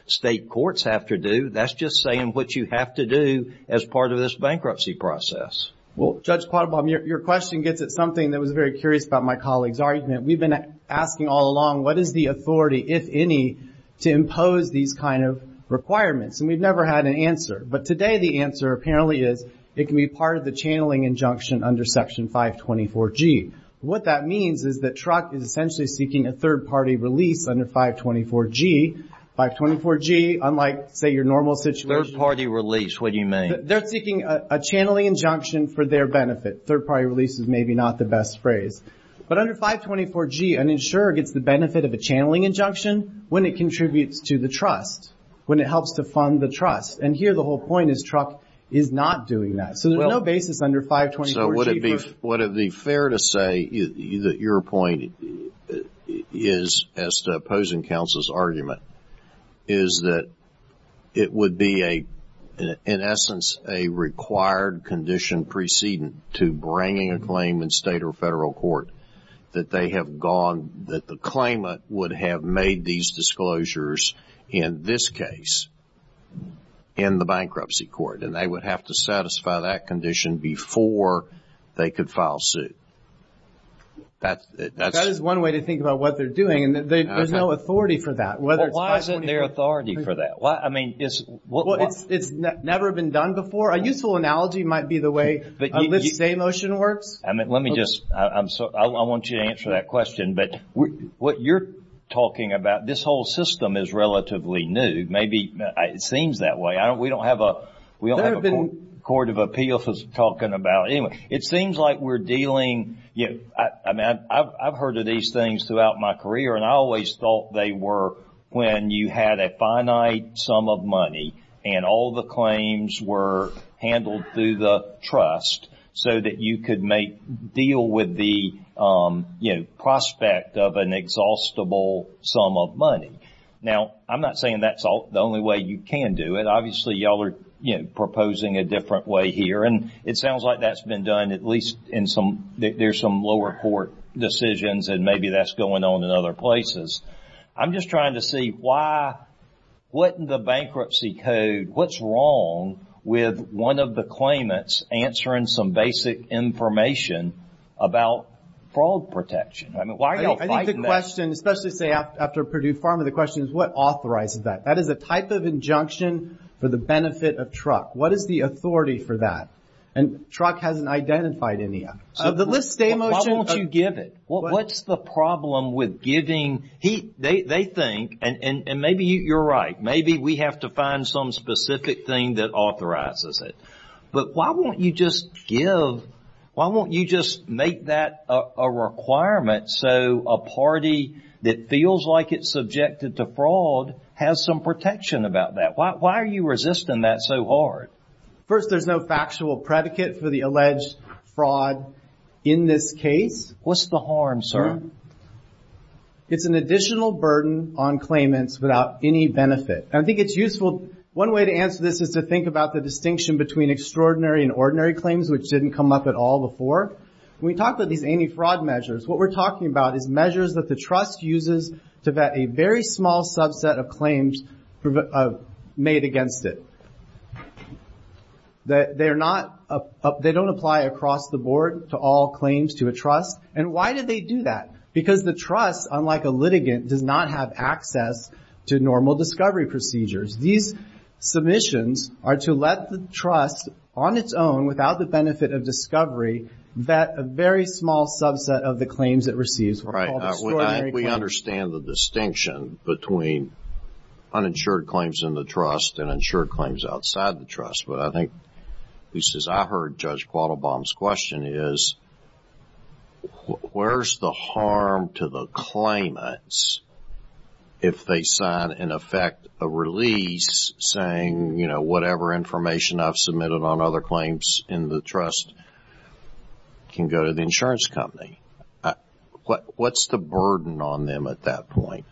state courts have to do. That's just saying what you have to do as part of this bankruptcy process. Well, Judge Pottenbaum, your question gets at something that was very curious about my colleague's argument. We've been asking all along, what is the authority, if any, to impose these kind of requirements? And we've never had an answer. But today, the answer apparently is, it can be part of the channeling injunction under Section 524G. What that means is that truck is essentially seeking a third-party relief under 524G. 524G, unlike, say, your normal situation. Third-party relief, what do you mean? They're seeking a channeling injunction for their benefit. Third-party relief is maybe not the best phrase. But under 524G, an insurer gets the benefit of a channeling injunction when it contributes to the trust, when it helps to fund the trust. And here, the whole point is truck is not doing that. So there's no basis under 524G. So would it be fair to say that your point is, as to opposing counsel's argument, is that it would be, in essence, a required condition precedent to bringing a claim in state or federal court that they have gone, that the claimant would have made these disclosures in this case, in the bankruptcy court. And they would have to satisfy that condition before they could file suit. That is one way to think about what they're doing. And there's no authority for that. Why isn't there authority for that? I mean, it's never been done before. A useful analogy might be the way a lift day motion works. Let me just, I want you to answer that question. But what you're talking about, this whole system is relatively new. Maybe it seems that way. We don't have a court of appeals talking about it. It seems like we're dealing, I mean, I've heard of these things throughout my career, and I always thought they were when you had a finite sum of money, and all the claims were handled through the trust so that you could make, deal with the prospect of an exhaustible sum of money. Now, I'm not saying that's the only way you can do it. Obviously, y'all are proposing a different way here. And it sounds like that's been done at least in some, there's some lower court decisions, and maybe that's going on in other places. I'm just trying to see why, what in the bankruptcy code, what's wrong with one of the claimants answering some basic information about fraud protection? I mean, why are you fighting that? I think the question, especially after Purdue Pharma, the question is what authorizes that? That is a type of injunction for the benefit of truck. What is the authority for that? And truck hasn't identified any yet. Let's stay motion. Why won't you give it? What's the problem with giving? They think, and maybe you're right, maybe we have to find some specific thing that authorizes it. But why won't you just give, why won't you just make that a requirement so a party that feels like it's subjected to fraud has some protection about that? Why are you resisting that so hard? First, there's no factual predicate for the alleged fraud in this case. What's the harm, sir? It's an additional burden on claimants without any benefit. I think it's useful, one way to answer this is to think about the distinction between extraordinary and ordinary claims, which didn't come up at all before. When we talk about these anti-fraud measures, what we're talking about is measures that the trust uses to vet a very small subset of claims made against it. They don't apply across the board to all claims to a trust. And why do they do that? Because the trust, unlike a litigant, does not have access to normal discovery procedures. These submissions are to let the trust, on its own, without the benefit of discovery, vet a very small subset of the claims it receives. We understand the distinction between uninsured claims in the trust and insured claims outside the trust. But I think, at least as I heard Judge Quattlebaum's question, is where's the harm to the claimants if they sign and effect a release saying, you know, whatever information I've submitted on other claims in the trust can go to the insurance company? What's the burden on them at that point?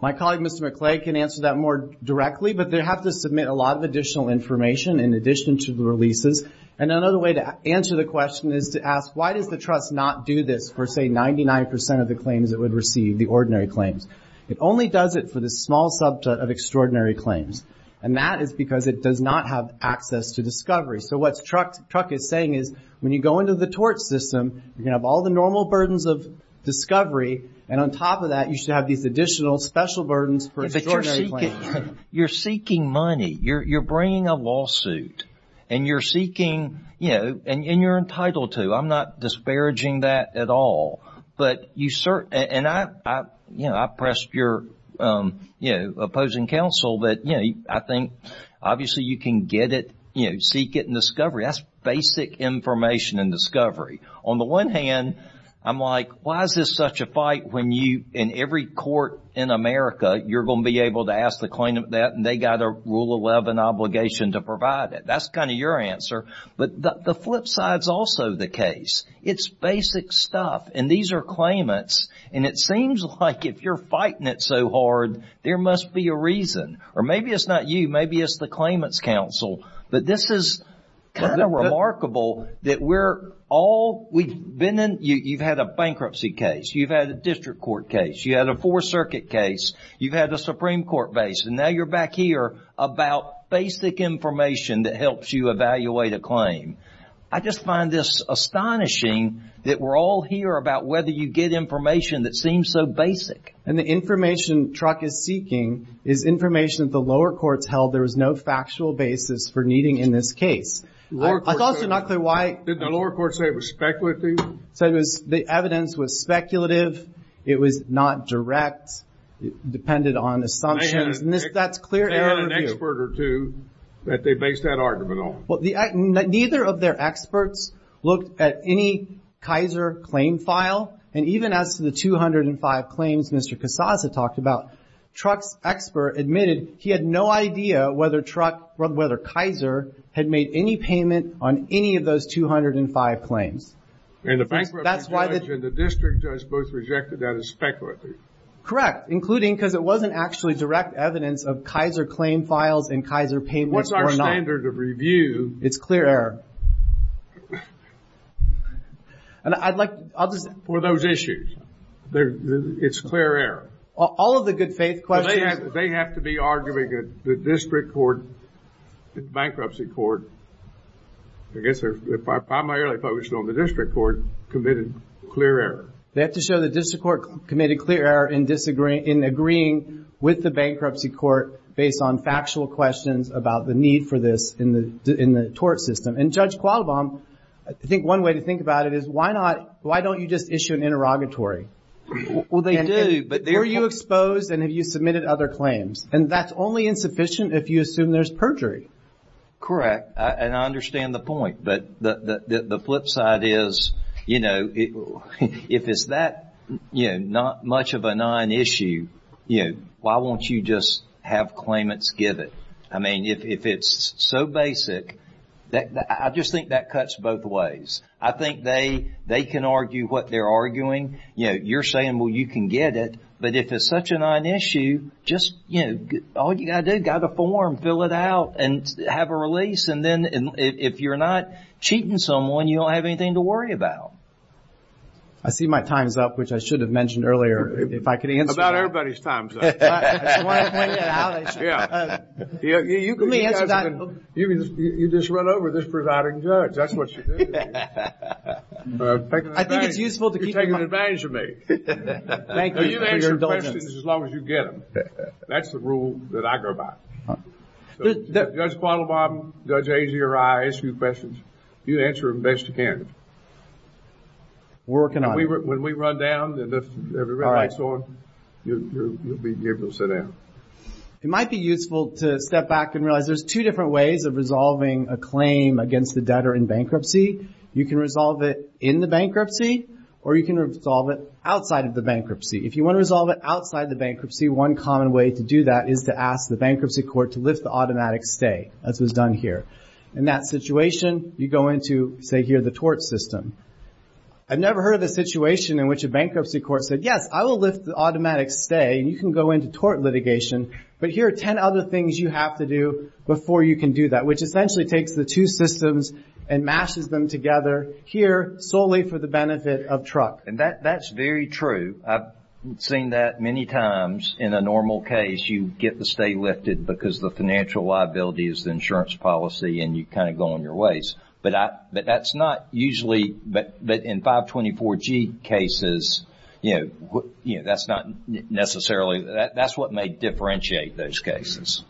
My colleague, Mr. McClay, can answer that more directly, but they have to submit a lot of additional information in addition to the releases. And another way to answer the question is to ask, why does the trust not do this for, say, 99% of the claims it would receive, the ordinary claims? It only does it for the small subset of extraordinary claims. And that is because it does not have access to discovery. So what the trust is saying is, when you go into the tort system, you have all the normal burdens of discovery, and on top of that you should have these additional special burdens for extraordinary claims. You're seeking money. You're bringing a lawsuit. And you're seeking, you know, and you're entitled to. I'm not disparaging that at all. And I pressed your opposing counsel that, you know, I think obviously you can get it, you know, seek it in discovery. That's basic information in discovery. On the one hand, I'm like, why is this such a fight when you, in every court in America, you're going to be able to ask the claimant that, and they've got a Rule 11 obligation to provide it. That's kind of your answer. But the flip side is also the case. It's basic stuff, and these are claimants, and it seems like if you're fighting it so hard, there must be a reason. Or maybe it's not you. Maybe it's the claimant's counsel. But this is kind of remarkable that we're all, we've been in, you've had a bankruptcy case, you've had a district court case, you've had a Fourth Circuit case, you've had a Supreme Court case, and now you're back here about basic information that helps you evaluate a claim. I just find this astonishing that we're all here about whether you get information that seems so basic. And the information the truck is seeking is information that the lower courts held there was no factual basis for needing in this case. I thought you're not clear why. Did the lower courts say it was speculative? The evidence was speculative. It was not direct. It depended on assumptions. They had an expert or two that they based that argument on. Neither of their experts looked at any Kaiser claim file, and even after the 205 claims Mr. Cassata talked about, truck's expert admitted he had no idea whether truck, whether Kaiser, had made any payment on any of those 205 claims. And the bankruptcy judge and the district judge both rejected that as speculative. Correct. Including because it wasn't actually direct evidence of Kaiser claim files and Kaiser payments or not. What's our standard of review? It's clear error. And I'd like to... For those issues. It's clear error. All of the good faith questions... They have to be arguing that the district court, the bankruptcy court, I guess if I'm not really focused on the district court, committed clear error. They have to show the district court committed clear error in agreeing with the bankruptcy court based on factual questions about the need for this in the tort system. And Judge Qualbaum, I think one way to think about it is why not, why don't you just issue an interrogatory? They do, but... Were you exposed and have you submitted other claims? And that's only insufficient if you assume there's perjury. Correct. And I understand the point, but the flip side is, you know, if it's that, you know, not much of a non-issue, you know, why won't you just have claimants give it? I mean, if it's so basic, I just think that cuts both ways. I think they can argue what they're arguing. You know, you're saying, well, you can get it. But if it's such a non-issue, just, you know, all you've got to do is get a form, fill it out, and have a release. And then if you're not cheating someone, you don't have anything to worry about. I see my time's up, which I should have mentioned earlier. If I could answer that. About everybody's time's up. You just run over this presiding judge. That's what you do. I think it's useful to keep. You're taking advantage of me. You can answer questions as long as you get them. That's the rule that I go by. Judge Bottlebaum, Judge Azariah, I ask you questions. You answer them best you can. Working on it. When we run down and the red light's on, you'll be able to sit down. It might be useful to step back and realize there's two different ways of resolving a claim against the debtor in bankruptcy. You can resolve it in the bankruptcy, or you can resolve it outside of the bankruptcy. If you want to resolve it outside the bankruptcy, one common way to do that is to ask the bankruptcy court to lift the automatic stay, as is done here. In that situation, you go into, say here, the tort system. I've never heard of a situation in which a bankruptcy court said, yes, I will lift the automatic stay, and you can go into tort litigation. But here are ten other things you have to do before you can do that, which essentially takes the two systems and mashes them together, here, solely for the benefit of trucks. That's very true. I've seen that many times. In a normal case, you get the stay lifted because the financial liability is the insurance policy, and you kind of go on your ways. But that's not usually, but in 524G cases, that's not necessarily, that's what may differentiate those cases.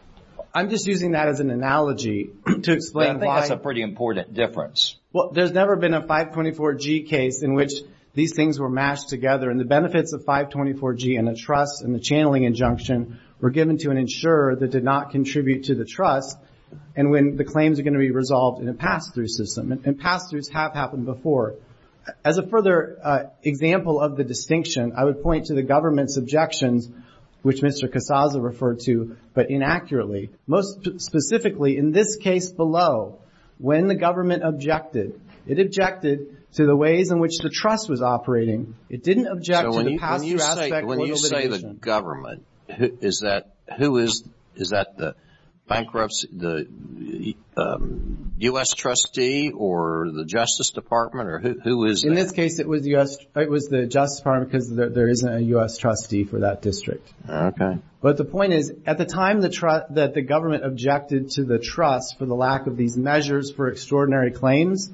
I'm just using that as an analogy to explain why. That's a pretty important difference. Well, there's never been a 524G case in which these things were mashed together, and the benefits of 524G and a trust and the channeling injunction were given to an insurer that did not contribute to the trust, and when the claims are going to be resolved in a pass-through system, and pass-throughs have happened before. As a further example of the distinction, I would point to the government's objections, which Mr. Casasa referred to, but inaccurately. Most specifically, in this case below, when the government objected, it objected to the ways in which the trust was operating. It didn't object to the pass-through aspect of the litigation. When you say the government, is that the bankruptcy, the U.S. trustee, or the Justice Department, or who is that? In this case, it was the Justice Department, because there isn't a U.S. trustee for that district. Okay. But the point is, at the time that the government objected to the trust for the lack of these measures for extraordinary claims,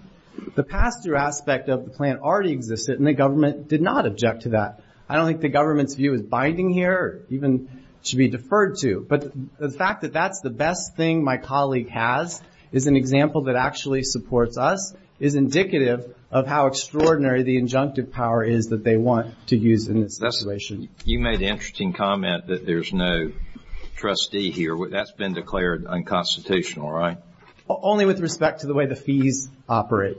the pass-through aspect of the plan already existed, and the government did not object to that. I don't think the government's view is binding here, or even should be deferred to. But the fact that that's the best thing my colleague has, is an example that actually supports us, is indicative of how extraordinary the injunctive power is that they want to use in this situation. You made an interesting comment that there's no trustee here. That's been declared unconstitutional, right? Only with respect to the way the fees operate.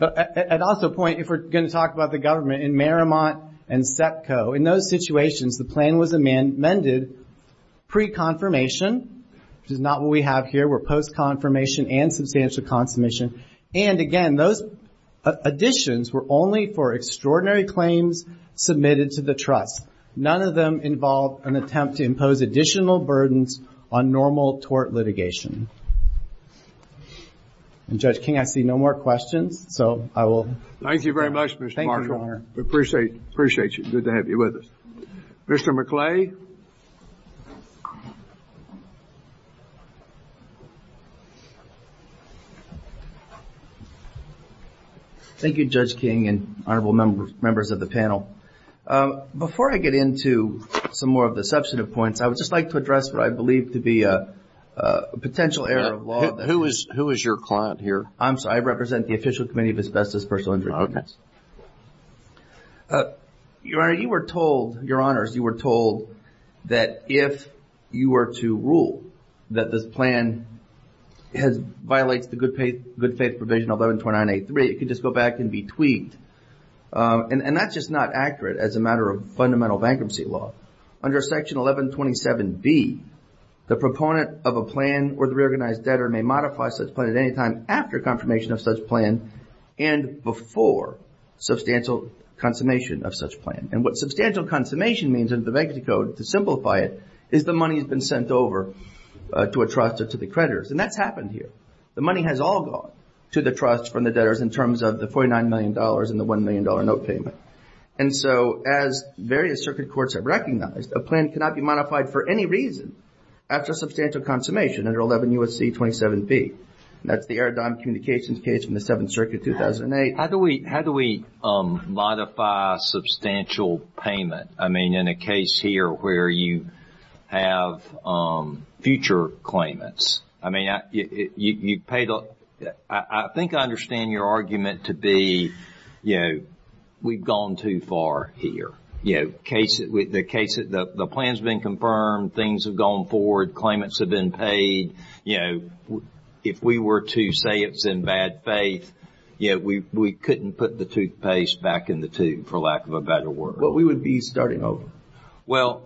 I'd also point, if we're going to talk about the government, in Marymount and SEPCO, in those situations, the plan was amended pre-confirmation, which is not what we have here. They were post-confirmation and substantial confirmation. And, again, those additions were only for extraordinary claims submitted to the trust. None of them involved an attempt to impose additional burdens on normal tort litigation. And, Judge King, I see no more questions. So, I will... Thank you very much, Mr. Martin. Thank you, Your Honor. We appreciate it. Appreciate you. Good to have you with us. Mr. McClary. Thank you, Judge King and honorable members of the panel. Before I get into some more of the substantive points, I would just like to address what I believe to be a potential error of law. Who is your client here? I'm sorry. I represent the official committee of asbestos personal independence. Your Honor, you were told... Your Honors, you were told that if you were to rule that the plan has violated the good faith provision of 1129A3, it could just go back and be tweaked. And that's just not accurate as a matter of fundamental bankruptcy law. Under Section 1127B, the proponent of a plan or the reorganized debtor may modify such plan at any time after confirmation of such plan and before substantial consummation of such plan. And what substantial consummation means in the bankruptcy code, to simplify it, is the money has been sent over to a trust or to the creditors. And that's happened here. The money has all gone to the trust from the debtors in terms of the $49 million and the $1 million note payment. And so, as various circuit courts have recognized, a plan cannot be modified for any reason after substantial consummation under 11 U.S.C. 27B. That's the Aerodrome Communications case from the 7th Circuit, 2008. How do we modify substantial payment? I mean, in a case here where you have future claimants. I mean, you pay the... I think I understand your argument to be, you know, we've gone too far here. You know, the plan's been confirmed, things have gone forward, claimants have been paid. You know, if we were to say it's in bad faith, you know, we couldn't put the toothpaste back in the tube, for lack of a better word. But we would be starting over. Well,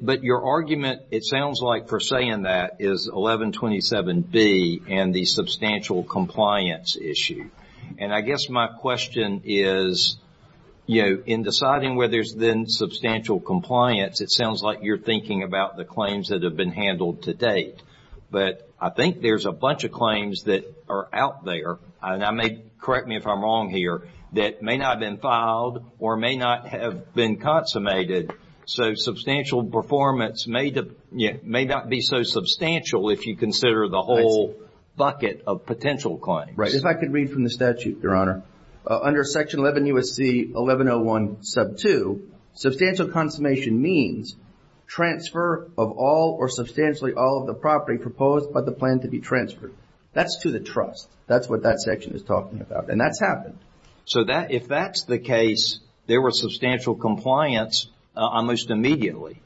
but your argument, it sounds like, for saying that, is 1127B and the substantial compliance issue. And I guess my question is, you know, in deciding whether there's been substantial compliance, it sounds like you're thinking about the claims that have been handled to date. But I think there's a bunch of claims that are out there, and correct me if I'm wrong here, that may not have been filed or may not have been consummated. So substantial performance may not be so substantial if you consider the whole bucket of potential claims. Right. If I could read from the statute, Your Honor. Under section 11 U.S.C. 1101 sub 2, substantial consummation means transfer of all or substantially all of the property proposed by the plan to be transferred. That's to the trust. That's what that section is talking about. And that's happened. So if that's the case, there was substantial compliance unleashed immediately.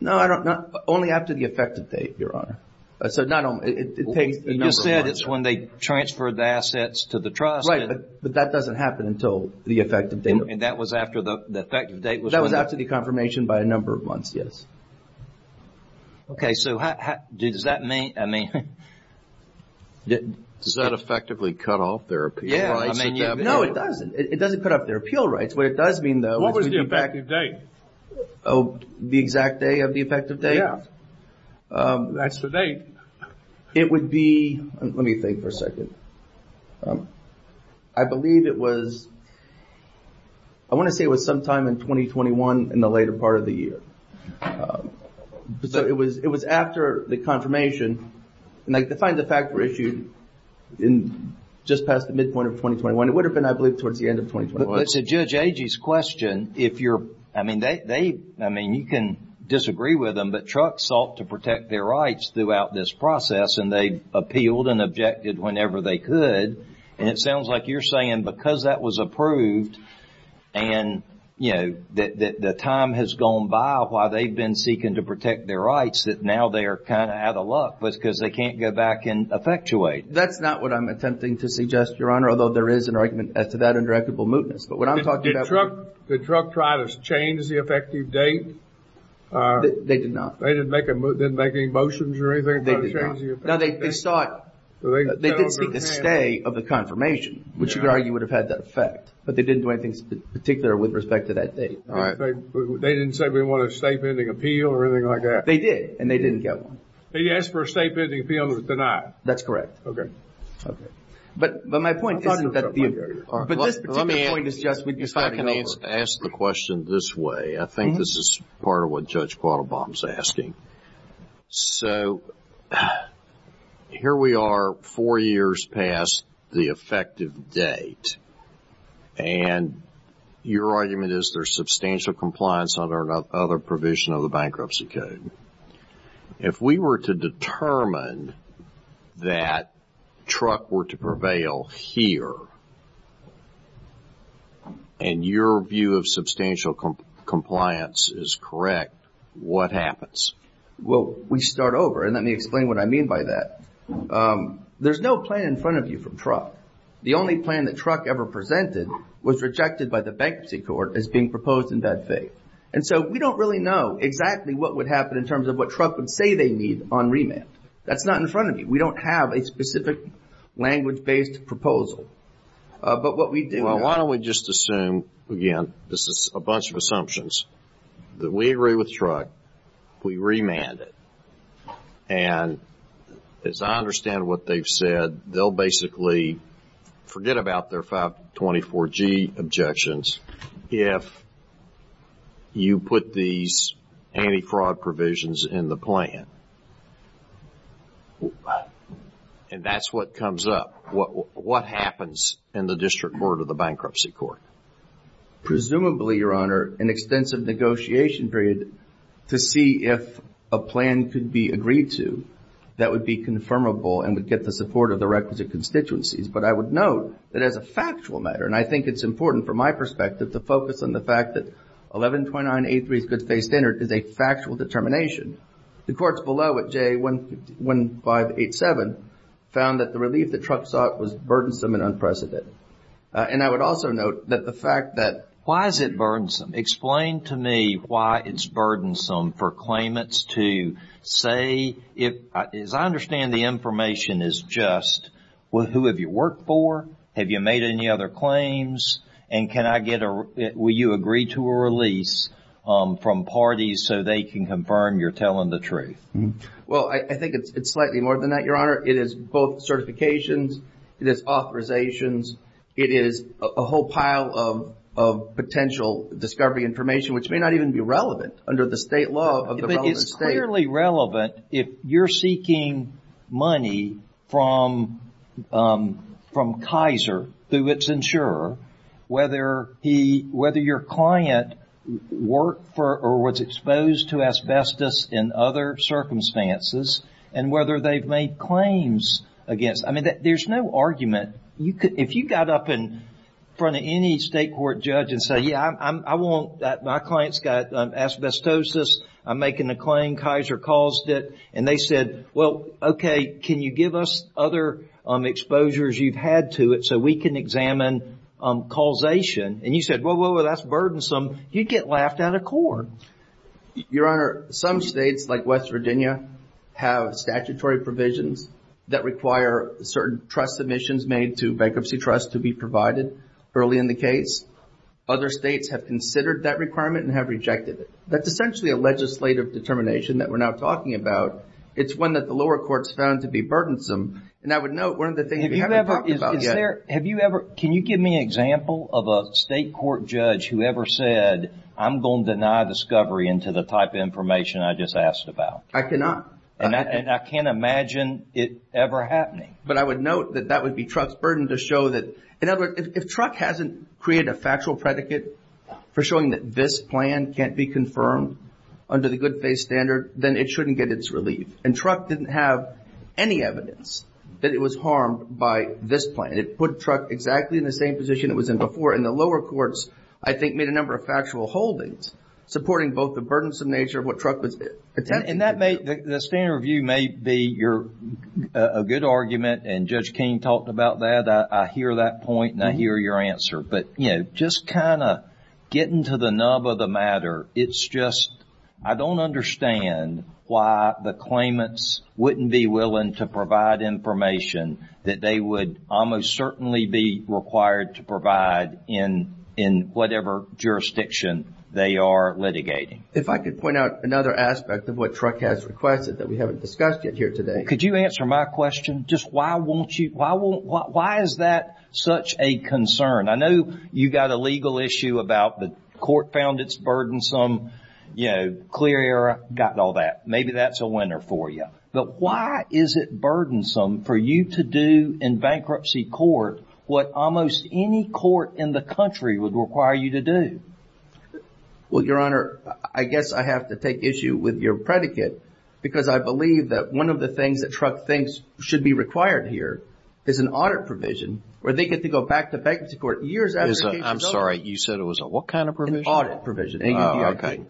No, I don't know. Only after the effective date, Your Honor. You just said it's when they transferred the assets to the trust. Right, but that doesn't happen until the effective date. And that was after the effective date. That was after the confirmation by a number of months, yes. Okay, so does that mean, I mean... Does that effectively cut off their appeal rights? Yeah. No, it doesn't. It doesn't cut off their appeal rights. What it does mean, though... What was the effective date? Oh, the exact day of the effective date? Yeah. That's the date. It would be... Let me think for a second. I believe it was... I want to say it was sometime in 2021 in the later part of the year. So it was after the confirmation. And I defined the fact for issue just past the midpoint of 2021. It would have been, I believe, towards the end of 2021. But to Judge Agee's question, if you're... I mean, you can disagree with them, but trucks sought to protect their rights throughout this process, and they appealed and objected whenever they could. And it sounds like you're saying because that was approved and, you know, the time has gone by while they've been seeking to protect their rights, that now they are kind of out of luck because they can't go back and effectuate. That's not what I'm attempting to suggest, Your Honor, although there is an argument as to that under equitable mootness. But what I'm talking about... Did the truck try to change the effective date? They did not. They didn't make any motions or anything to change the date? No, they sought... They did seek the stay of the confirmation, which you could argue would have had that effect. But they didn't do anything particular with respect to that date. They didn't say they wanted a statement of appeal or anything like that? They did, and they didn't get one. They asked for a statement of appeal and it was denied. That's correct. Okay. But my point is that... Let me ask the question this way. I think this is part of what Judge Quattlebaum is asking. So, here we are four years past the effective date, and your argument is there's substantial compliance under another provision of the Bankruptcy Code. If we were to determine that truck were to prevail here, and your view of substantial compliance is correct, what happens? Well, we start over, and let me explain what I mean by that. There's no plan in front of you for truck. The only plan that truck ever presented was rejected by the Bankruptcy Court as being proposed in that case. And so, we don't really know exactly what would happen in terms of what truck would say they need on remand. That's not in front of you. We don't have a specific language-based proposal. But what we do... Well, why don't we just assume, again, this is a bunch of assumptions, that we agree with truck, we remand it, and as I understand what they've said, they'll basically forget about their 524G objections if you put these anti-fraud provisions in the plan. And that's what comes up. What happens in the District Court or the Bankruptcy Court? Presumably, Your Honor, an extensive negotiation period to see if a plan could be agreed to that would be confirmable and would get the support of the requisite constituencies. But I would note that as a factual matter, and I think it's important from my perspective to focus on the fact that 1129A3's good-faith standard is a factual determination, the courts below it, J1587, found that the relief that truck sought was burdensome and unprecedented. And I would also note that the fact that... Why is it burdensome? Explain to me why it's burdensome for claimants to say, as I understand the information is just, well, who have you worked for? Have you made any other claims? And can I get a... Will you agree to a release from parties so they can confirm you're telling the truth? Well, I think it's slightly more than that, Your Honor. It is both certifications. It is authorizations. It is a whole pile of potential discovery information, which may not even be relevant under the state law. But it's clearly relevant if you're seeking money from Kaiser through its insurer, whether your client worked for or was exposed to asbestos in other circumstances and whether they've made claims against... I mean, there's no argument. If you got up in front of any state court judge and said, yeah, I want... My client's got asbestosis. I'm making a claim. Kaiser caused it. And they said, well, okay, can you give us other exposures you've had to it so we can examine causation? And you said, whoa, whoa, whoa, that's burdensome. You'd get laughed out of court. Your Honor, some states, like West Virginia, have statutory provisions that require certain trust submissions made to bankruptcy trusts to be provided early in the case. Other states have considered that requirement and have rejected it. That's essentially a legislative determination that we're not talking about. It's one that the lower courts found to be burdensome. And I would note one of the things... Have you ever... Can you give me an example of a state court judge who ever said, I'm going to deny discovery into the type of information I just asked about? I cannot. And I can't imagine it ever happening. But I would note that that would be trust burden to show that... In other words, if TRUC hasn't created a factual predicate for showing that this plan can't be confirmed under the good-faith standard, then it shouldn't get its relief. And TRUC didn't have any evidence that it was harmed by this plan. It put TRUC exactly in the same position it was in before, and the lower courts, I think, made a number of factual holdings supporting both the burdensome nature of what TRUC... And that may... The standard view may be a good argument, and Judge King talked about that. I hear that point, and I hear your answer. But, you know, just kind of getting to the nub of the matter, it's just... I don't understand why the claimants wouldn't be willing to provide information that they would almost certainly be required to provide in whatever jurisdiction they are litigating. If I could point out another aspect of what TRUC has requested that we haven't discussed yet here today... Could you answer my question? Just why won't you... Why is that such a concern? I know you've got a legal issue about the court found it's burdensome, you know, clear error, got all that. Maybe that's a winner for you. But why is it burdensome for you to do in bankruptcy court what almost any court in the country would require you to do? Well, Your Honor, I guess I have to take issue with your predicate, because I believe that one of the things that TRUC thinks should be required here is an audit provision, where they get to go back to bankruptcy court years after... I'm sorry, you said it was a what kind of provision? An audit provision. Oh, okay.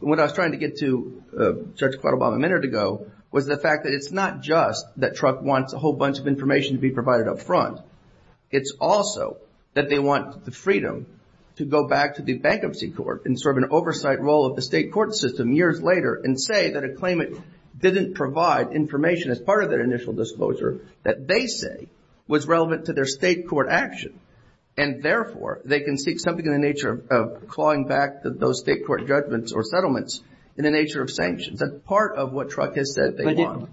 What I was trying to get to, Judge Quattlebaum, a minute ago, was the fact that it's not just that TRUC wants a whole bunch of information to be provided up front. It's also that they want the freedom to go back to the bankruptcy court and serve an oversight role of the state court system years later and say that a claimant didn't provide information as part of their initial disclosure that they say was relevant to their state court action. And therefore, they can seek something in the nature of clawing back those state court judgments or settlements in the nature of sanctions. That's part of what TRUC has said they want.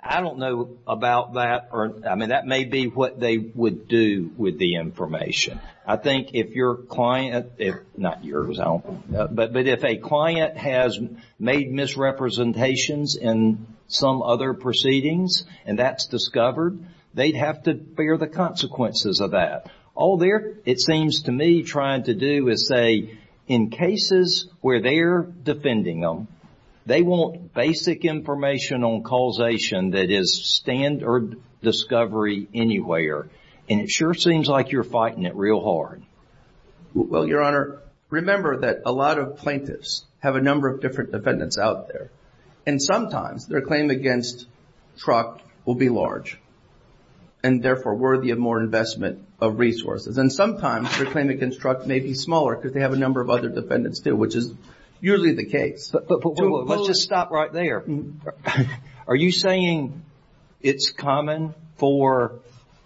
I don't know about that. I mean, that may be what they would do with the information. I think if your client, not yours, I don't know, but if a client has made misrepresentations in some other proceedings and that's discovered, they'd have to bear the consequences of that. All they're, it seems to me, trying to do is say, in cases where they're defending them, they want basic information on causation that is standard discovery anywhere. And it sure seems like you're fighting it real hard. Well, Your Honor, remember that a lot of plaintiffs have a number of different defendants out there. And sometimes their claim against TRUC will be large. And therefore, worthy of more investment of resources. And sometimes their claim against TRUC may be smaller because they have a number of other defendants too, which is usually the case. Let's just stop right there. Are you saying it's common for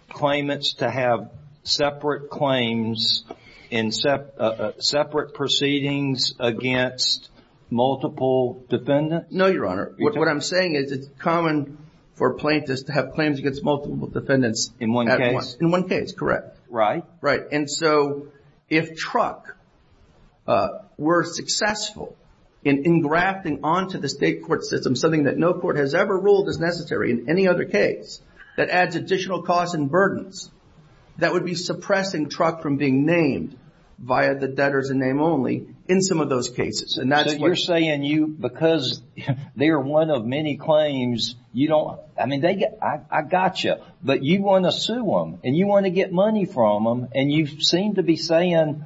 claimants to have separate claims and separate proceedings against multiple defendants? No, Your Honor. What I'm saying is it's common for plaintiffs to have claims against multiple defendants in one case? In one case, correct. Right. Right. And so, if TRUC were successful in engrafting onto the state court system something that no court has ever ruled as necessary in any other case that adds additional costs and burdens, that would be suppressing TRUC from being named via the debtors in name only in some of those cases. So you're saying you, because they're one of many claims, you don't... I mean, they get... I got you. But you want to sue them and you want to get money from them and you seem to be saying...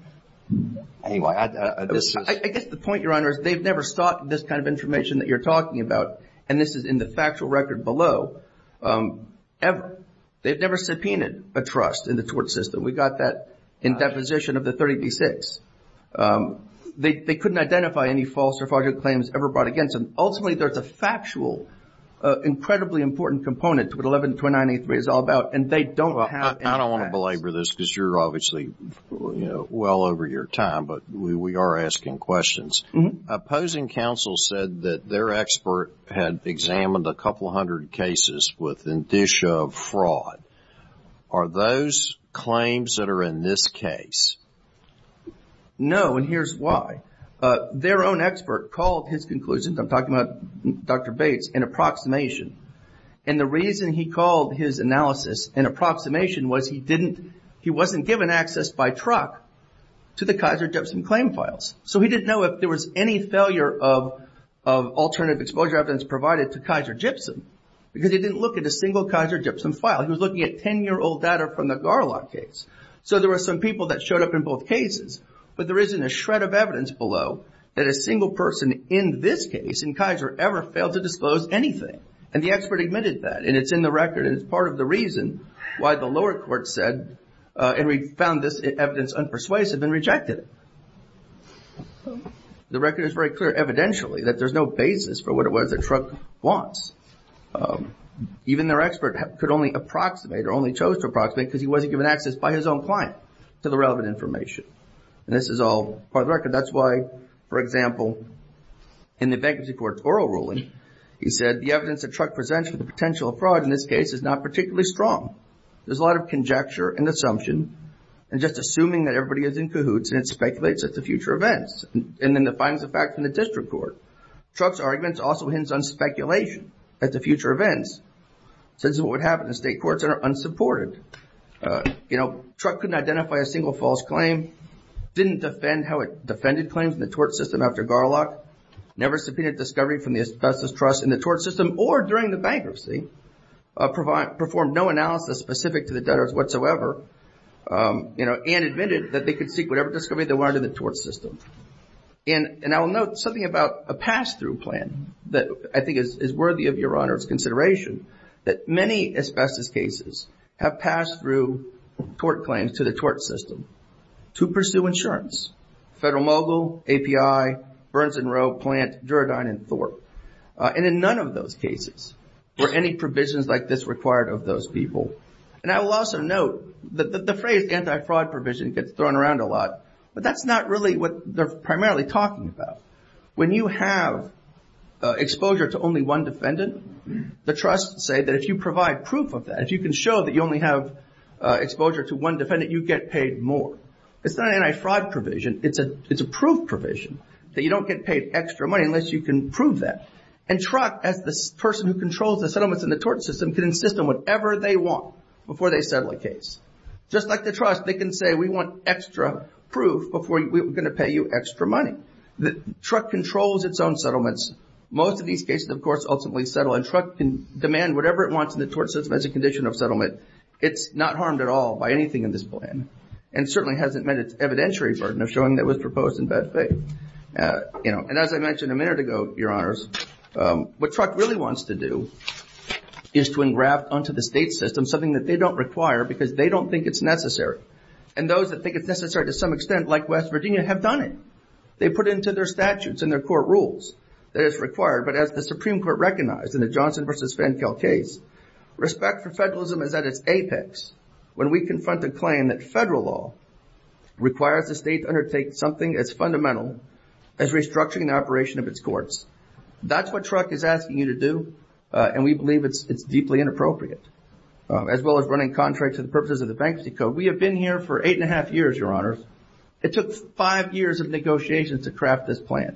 Anyway, I just... I guess the point, Your Honor, is they've never sought this kind of information that you're talking about. And this is in the factual record below. Ever. They've never subpoenaed a trust in the court system. We've got that in deposition of the 30B-6. They couldn't identify any false or fraudulent claims ever brought against them. Ultimately, there's a factual, incredibly important component to what 11-29-83 is all about, and they don't have... I don't want to belabor this because you're obviously well over your time, but we are asking questions. Opposing counsel said that their expert had examined a couple hundred cases with indicia of fraud. Are those claims that are in this case No, and here's why. Their own expert called his conclusions, I'm talking about Dr. Bates, an approximation. And the reason he called his analysis an approximation was he didn't... he wasn't given access by truck to the Kaiser-Gibson claim files. So he didn't know if there was any failure of alternative exposure evidence provided to Kaiser-Gibson because he didn't look at a single Kaiser-Gibson file. He was looking at 10-year-old data from the Garlock case. So there were some people that showed up in both cases, but there isn't a shred of evidence below that a single person in this case in Kaiser ever failed to disclose anything. And the expert admitted that, and it's in the record and it's part of the reason why the lower court said and found this evidence unpersuasive and rejected it. The record is very clear evidentially that there's no basis for what the truck wants. Even their expert could only approximate or only chose to approximate because he wasn't given access by his own client to the relevant information. And this is all part of the record. That's why, for example, in the vacancy court's oral ruling, he said the evidence that truck presents with the potential of fraud in this case is not particularly strong. There's a lot of conjecture and assumption and just assuming that everybody is in cahoots and it speculates at the future events. And then the findings of fact in the district court. Truck's argument also hints on speculation at the future events. So this is what would happen in state courts that are unsupported. You know, truck couldn't identify a single false claim, didn't defend how it defended claims in the tort system after Garlock, never subpoenaed discovery from the asbestos trust in the tort system or during the bankruptcy, performed no analysis specific to the debtors whatsoever, and admitted that they could seek whatever discovery they wanted in the tort system. And I'll note something about a pass-through plan that I think is worthy of Your Honor's consideration that many asbestos cases have pass-through tort claims to the tort system to pursue insurance. Federal Mogul, API, Burns and Row, Plant, Duragine and Thorpe. And in none of those cases were any provisions like this required of those people. And I will also note that the phrase anti-fraud provision gets thrown around a lot but that's not really what they're primarily talking about. When you have exposure to only one defendant, the trusts say that if you provide proof of that, if you can show that you only have exposure to one defendant, you get paid more. It's not an anti-fraud provision, it's a proof provision that you don't get paid extra money unless you can prove that. And truck, as the person who controls the settlements in the tort system, can insist on whatever they want before they settle a case. Just like the trust, they can say we want extra proof before we're going to pay you extra money. The truck controls its own settlements. Most of these cases, of course, ultimately settle and truck can demand whatever it wants in the tort system as a condition of settlement. It's not harmed at all by anything in this plan and certainly hasn't met its evidentiary burden of showing that it was proposed in bad faith. And as I mentioned a minute ago, Your Honors, what truck really wants to do is to engraft onto the state system something that they don't require because they don't think it's necessary. And those that think it's necessary to some extent, like West Virginia, have done it. They've put it into their statutes and their court rules that it's required. But as the Supreme Court recognized in the Johnson v. Fankel case, respect for federalism is at its apex when we confront the claim that federal law requires the state to undertake something that's fundamental as restructuring the operation of its courts. That's what truck is asking you to do and we believe it's deeply inappropriate as well as running contracts and purposes of the Banksy Code. We have been here for eight and a half years, Your Honors. It took five years of negotiations to craft this plan.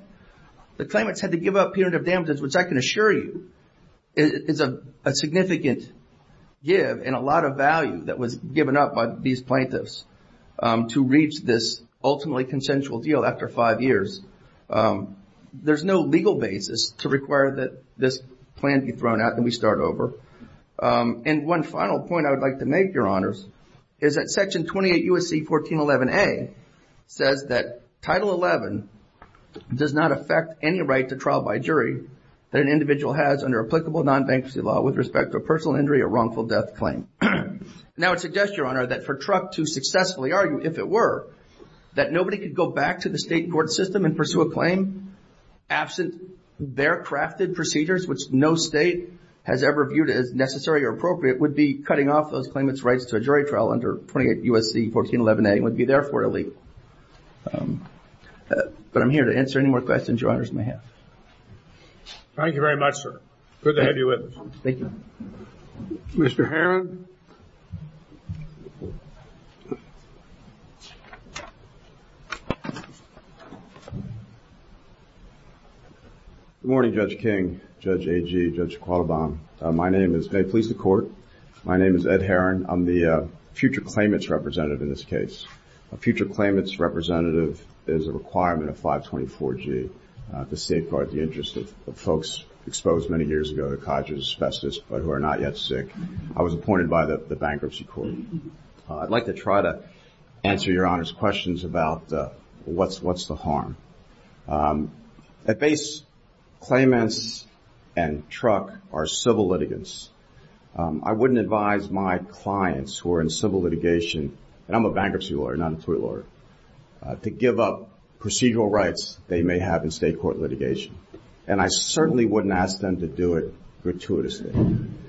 The claimant had to give up punitive damages, which I can assure you is a significant give and a lot of value that was given up by these plaintiffs to reach this ultimately consensual deal after five years. There's no legal basis to require that this plan be thrown out and we start over. And one final point I would like to make, Your Honors, is that Section 28 U.S.C. 1411A says that Title XI does not affect any right that an individual has under applicable non-banksy law with respect to a personal injury or wrongful death claim. Now it suggests, that for Trump to successfully argue, if it were, that nobody could go back to the state court system and pursue a claim absent their crafted procedures, which no state has ever viewed as necessary or appropriate, would be cutting off those claimants' rights to a jury trial under 28 U.S.C. 1411A and would be, therefore, illegal. But I'm here to answer any more questions that you, Your Honors, may have. Thank you very much, sir. Good to have you with us. Thank you. Mr. Herron? Good morning, Judge King, Judge Agee, Judge Qualbaum. My name is May Police of Court. My name is Ed Herron. I'm the future claimant's representative in this case. A future claimant's representative is a requirement in 524G to safeguard the interests of folks exposed many years ago to cottage asbestos but who are not yet sick. I was appointed by the bankruptcy court. I'd like to try to answer Your Honors' questions about what's the harm. At base, claimants and truck are civil litigants. I wouldn't advise my clients who are in civil litigation and I'm a bankruptcy lawyer, not a tuit lawyer, to give up procedural rights they may have in state court litigation. And I certainly wouldn't ask them to do it gratuitously.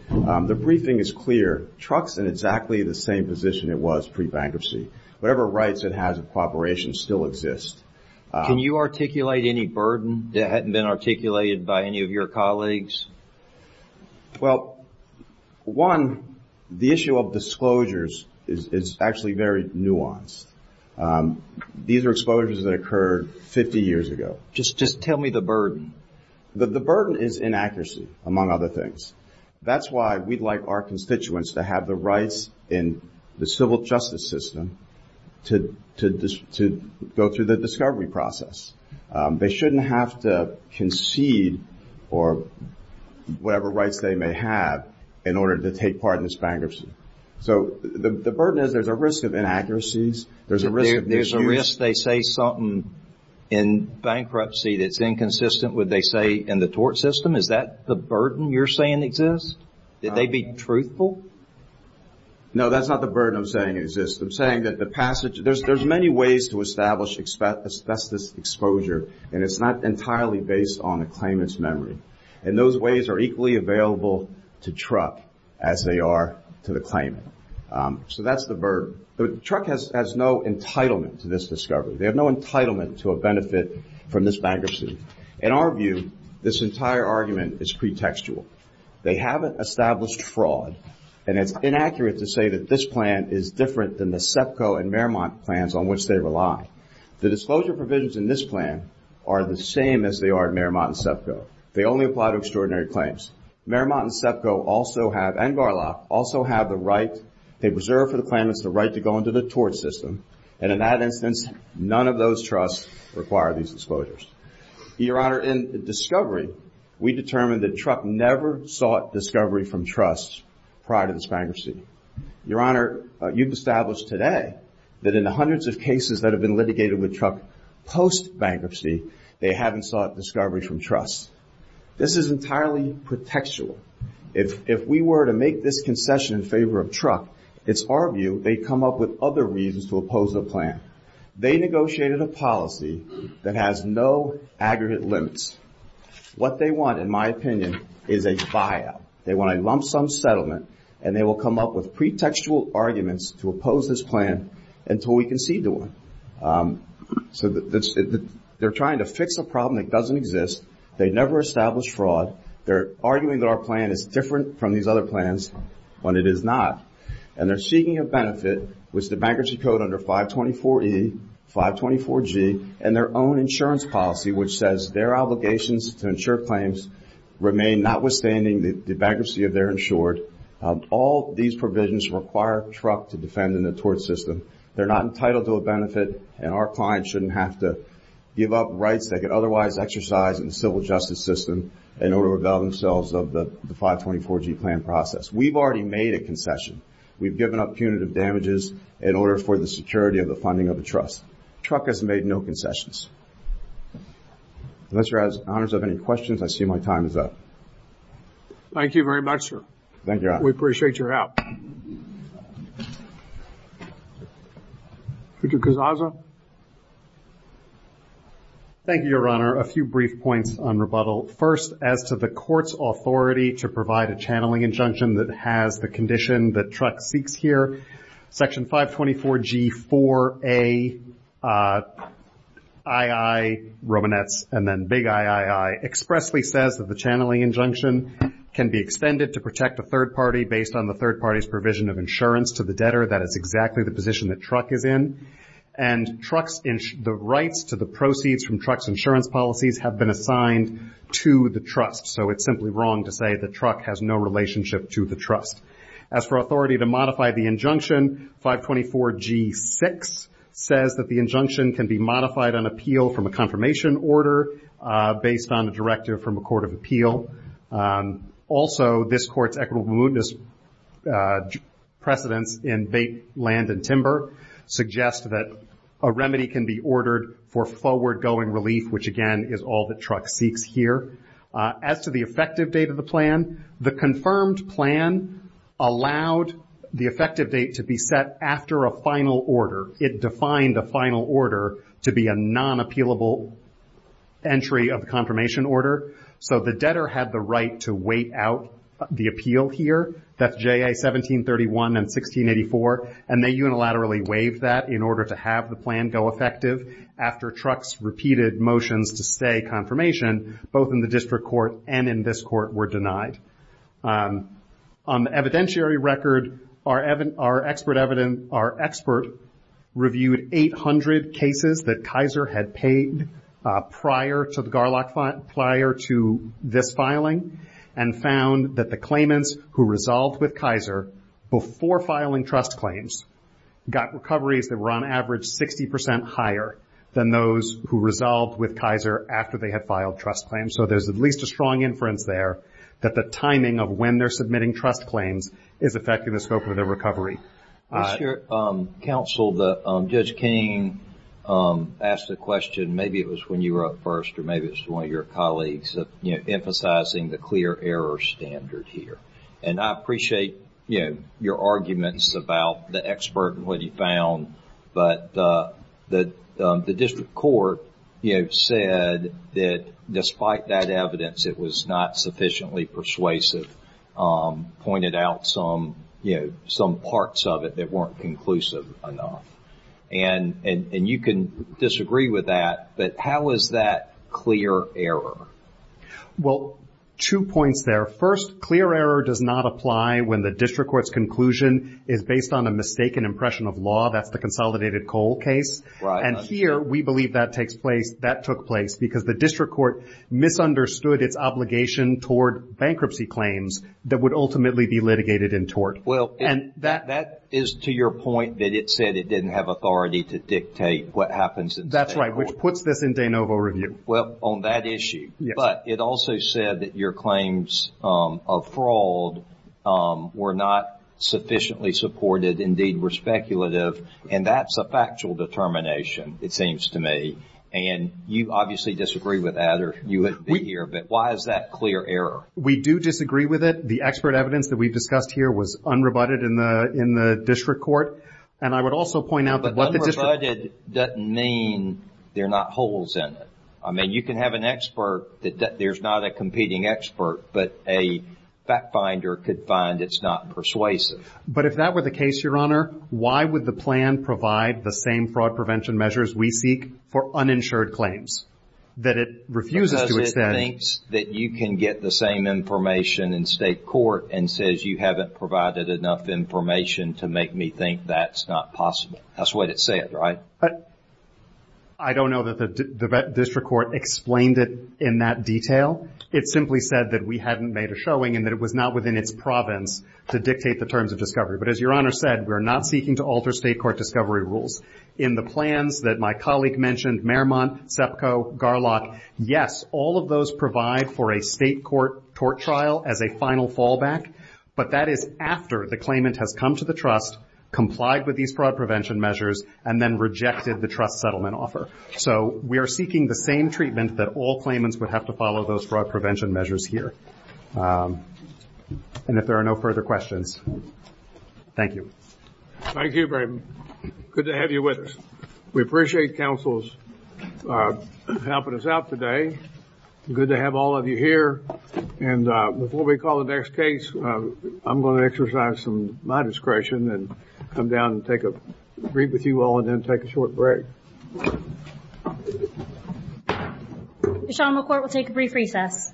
the briefing is clear. Truck's in exactly the same position it was pre-bankruptcy. Whatever rights it has in cooperation still exist. Can you articulate any burden that hadn't been articulated by any of your colleagues? Well, one, the issue of disclosures is actually very nuanced. Um, these are exposures that occurred 50 years ago. Just tell me the burden. The burden is inaccuracy among other things. That's why we'd like our constituents to have the rights in the civil justice system to go through the discovery process. they shouldn't have to concede or whatever rights they may have in order to take part in this bankruptcy. So, the burden is there's a risk of inaccuracies. There's a risk they say something in bankruptcy that's inconsistent with what they say in the tort system. Is that the burden you're saying exists? That they'd be truthful? No, that's not the burden I'm saying exists. I'm saying that the passage there's many ways to establish asbestos exposure and it's not entirely based on the claimant's memory. And those ways are equally available to truck as they are to the claimant. Um, that's the burden. The truck has no entitlement to this discovery. They have no entitlement to a benefit from this bankruptcy. In our view, this entire argument is pretextual. They haven't established fraud and it's inaccurate to say that this plan is different than the SEPCO and Merrimont plans on which they rely. The disclosure provisions in this plan are the same as they are in Merrimont and SEPCO. They only apply to extraordinary claims. Merrimont and SEPCO also have, they preserve for the claimant the right to go into the tort system and in that instance none of those trusts require these disclosures. Your Honor, in discovery we determined that truck never sought discovery from trusts prior to this bankruptcy. Your Honor, you've established today that in the hundreds of cases that have been litigated with truck post-bankruptcy they haven't sought discovery from trusts. This is entirely pretextual. If we were to make this concession in favor of truck, it's our view they come up with other reasons to oppose the plan. They negotiated a policy that has no aggregate limits. What they want in my opinion is a buyout. They want a lump sum settlement and they will come up with pretextual arguments to oppose this plan until we concede to them. They're trying to fix a problem that doesn't exist. They never established fraud. They're arguing that our plan is different from these other plans when it is not. And they're seeking a benefit which the bankruptcy code under 524E, 524G, and their own insurance policy which says their obligations to insure claims remain notwithstanding the bankruptcy of their insured. All these provisions require truck to defend in the tort system. They're not entitled to a benefit and our clients shouldn't have to give up rights they could otherwise exercise in the civil justice system in order to avail themselves of the 524G plan process. We've already made a concession. We've given up punitive damages in order for the security of the funding of the trust. Truck has made no concessions. Unless your Honor has any questions, I see my time is up. Thank you very much, We appreciate your help. Thank you, Your Honor. A few brief points on rebuttal. First, as to the court's authority to provide a channeling injunction that has the condition that truck speaks here, section 524G 4A II Romanets and then big II expressly says that the channeling injunction can be extended to protect the third party based on the third party's provision of insurance to the debtor. That is exactly the position that the And the rights to the proceeds from truck's insurance policies have been assigned to the trust. As for authority to modify the 524G 6 says that the injunction can be modified on appeal from a confirmation order based on a directive from a court of Also, this court's precedence in land and suggests that a remedy can be ordered for forward-going relief which again is all that truck speaks here. As to the effective date of the plan, confirmed plan allowed the effective date to be set after a final order. It defined the final order to be a non-appealable entry of confirmation order. So the debtor had the right to wait out the appeal here. And they unilaterally waived that in order to have the plan go On the evidentiary record, our expert reviewed 800 cases that Kaiser had paid prior to this filing and found that the claimants who resolved with Kaiser before filing trust claims got recoveries that were on average 60% higher than those who resolved with Kaiser after they had filed trust claims. So there's at least a strong inference there that the timing of when they're submitting trust claims is affecting the scope of their recovery. I'm sure counsel, Judge King asked the question, maybe it was when you were up first or maybe it was one of your colleagues emphasizing the evidence was not sufficiently persuasive, pointed out some parts of it that weren't conclusive enough. And you can disagree with that, but how is that clear error? Well, two points there. First, clear error does not apply when the district court's conclusion is based on a mistaken impression of law. And here we believe that took place because the district court misunderstood its obligation toward bankruptcy claims. That is to your point that it said it didn't have authority to what happens in that issue. But it also said that your claims of fraud were not sufficiently supported, indeed were speculative, and that's a determination, it seems to me. And you obviously disagree with that, or you wouldn't be here, but why is that clear error? We do disagree with it. The expert evidence we discussed here was unrebutted in the district court. But unrebutted doesn't mean there are not holes in it. You can have an expert, there's not a competing expert, but a fact finder could find it's not persuasive. But if that were the case, Honor, why would the plan provide the same fraud prevention measures we seek for uninsured claims? Because it thinks you can get the same information in state court and says you haven't provided enough information to make me think that's not possible. That's not Honor said, we're not seeking to alter state court discovery rules. Yes, all of those provide for a state court trial as a final fallback, but that is after the claimant has come to the with fraud prevention measures and rejected the settlement offer. If there are no further questions, thank you. Thank you. Good to have you with us. We appreciate counsels helping us out today. Good to have all of you here. Before we call the next case, I'm going to take a short break. We'll take a brief recess.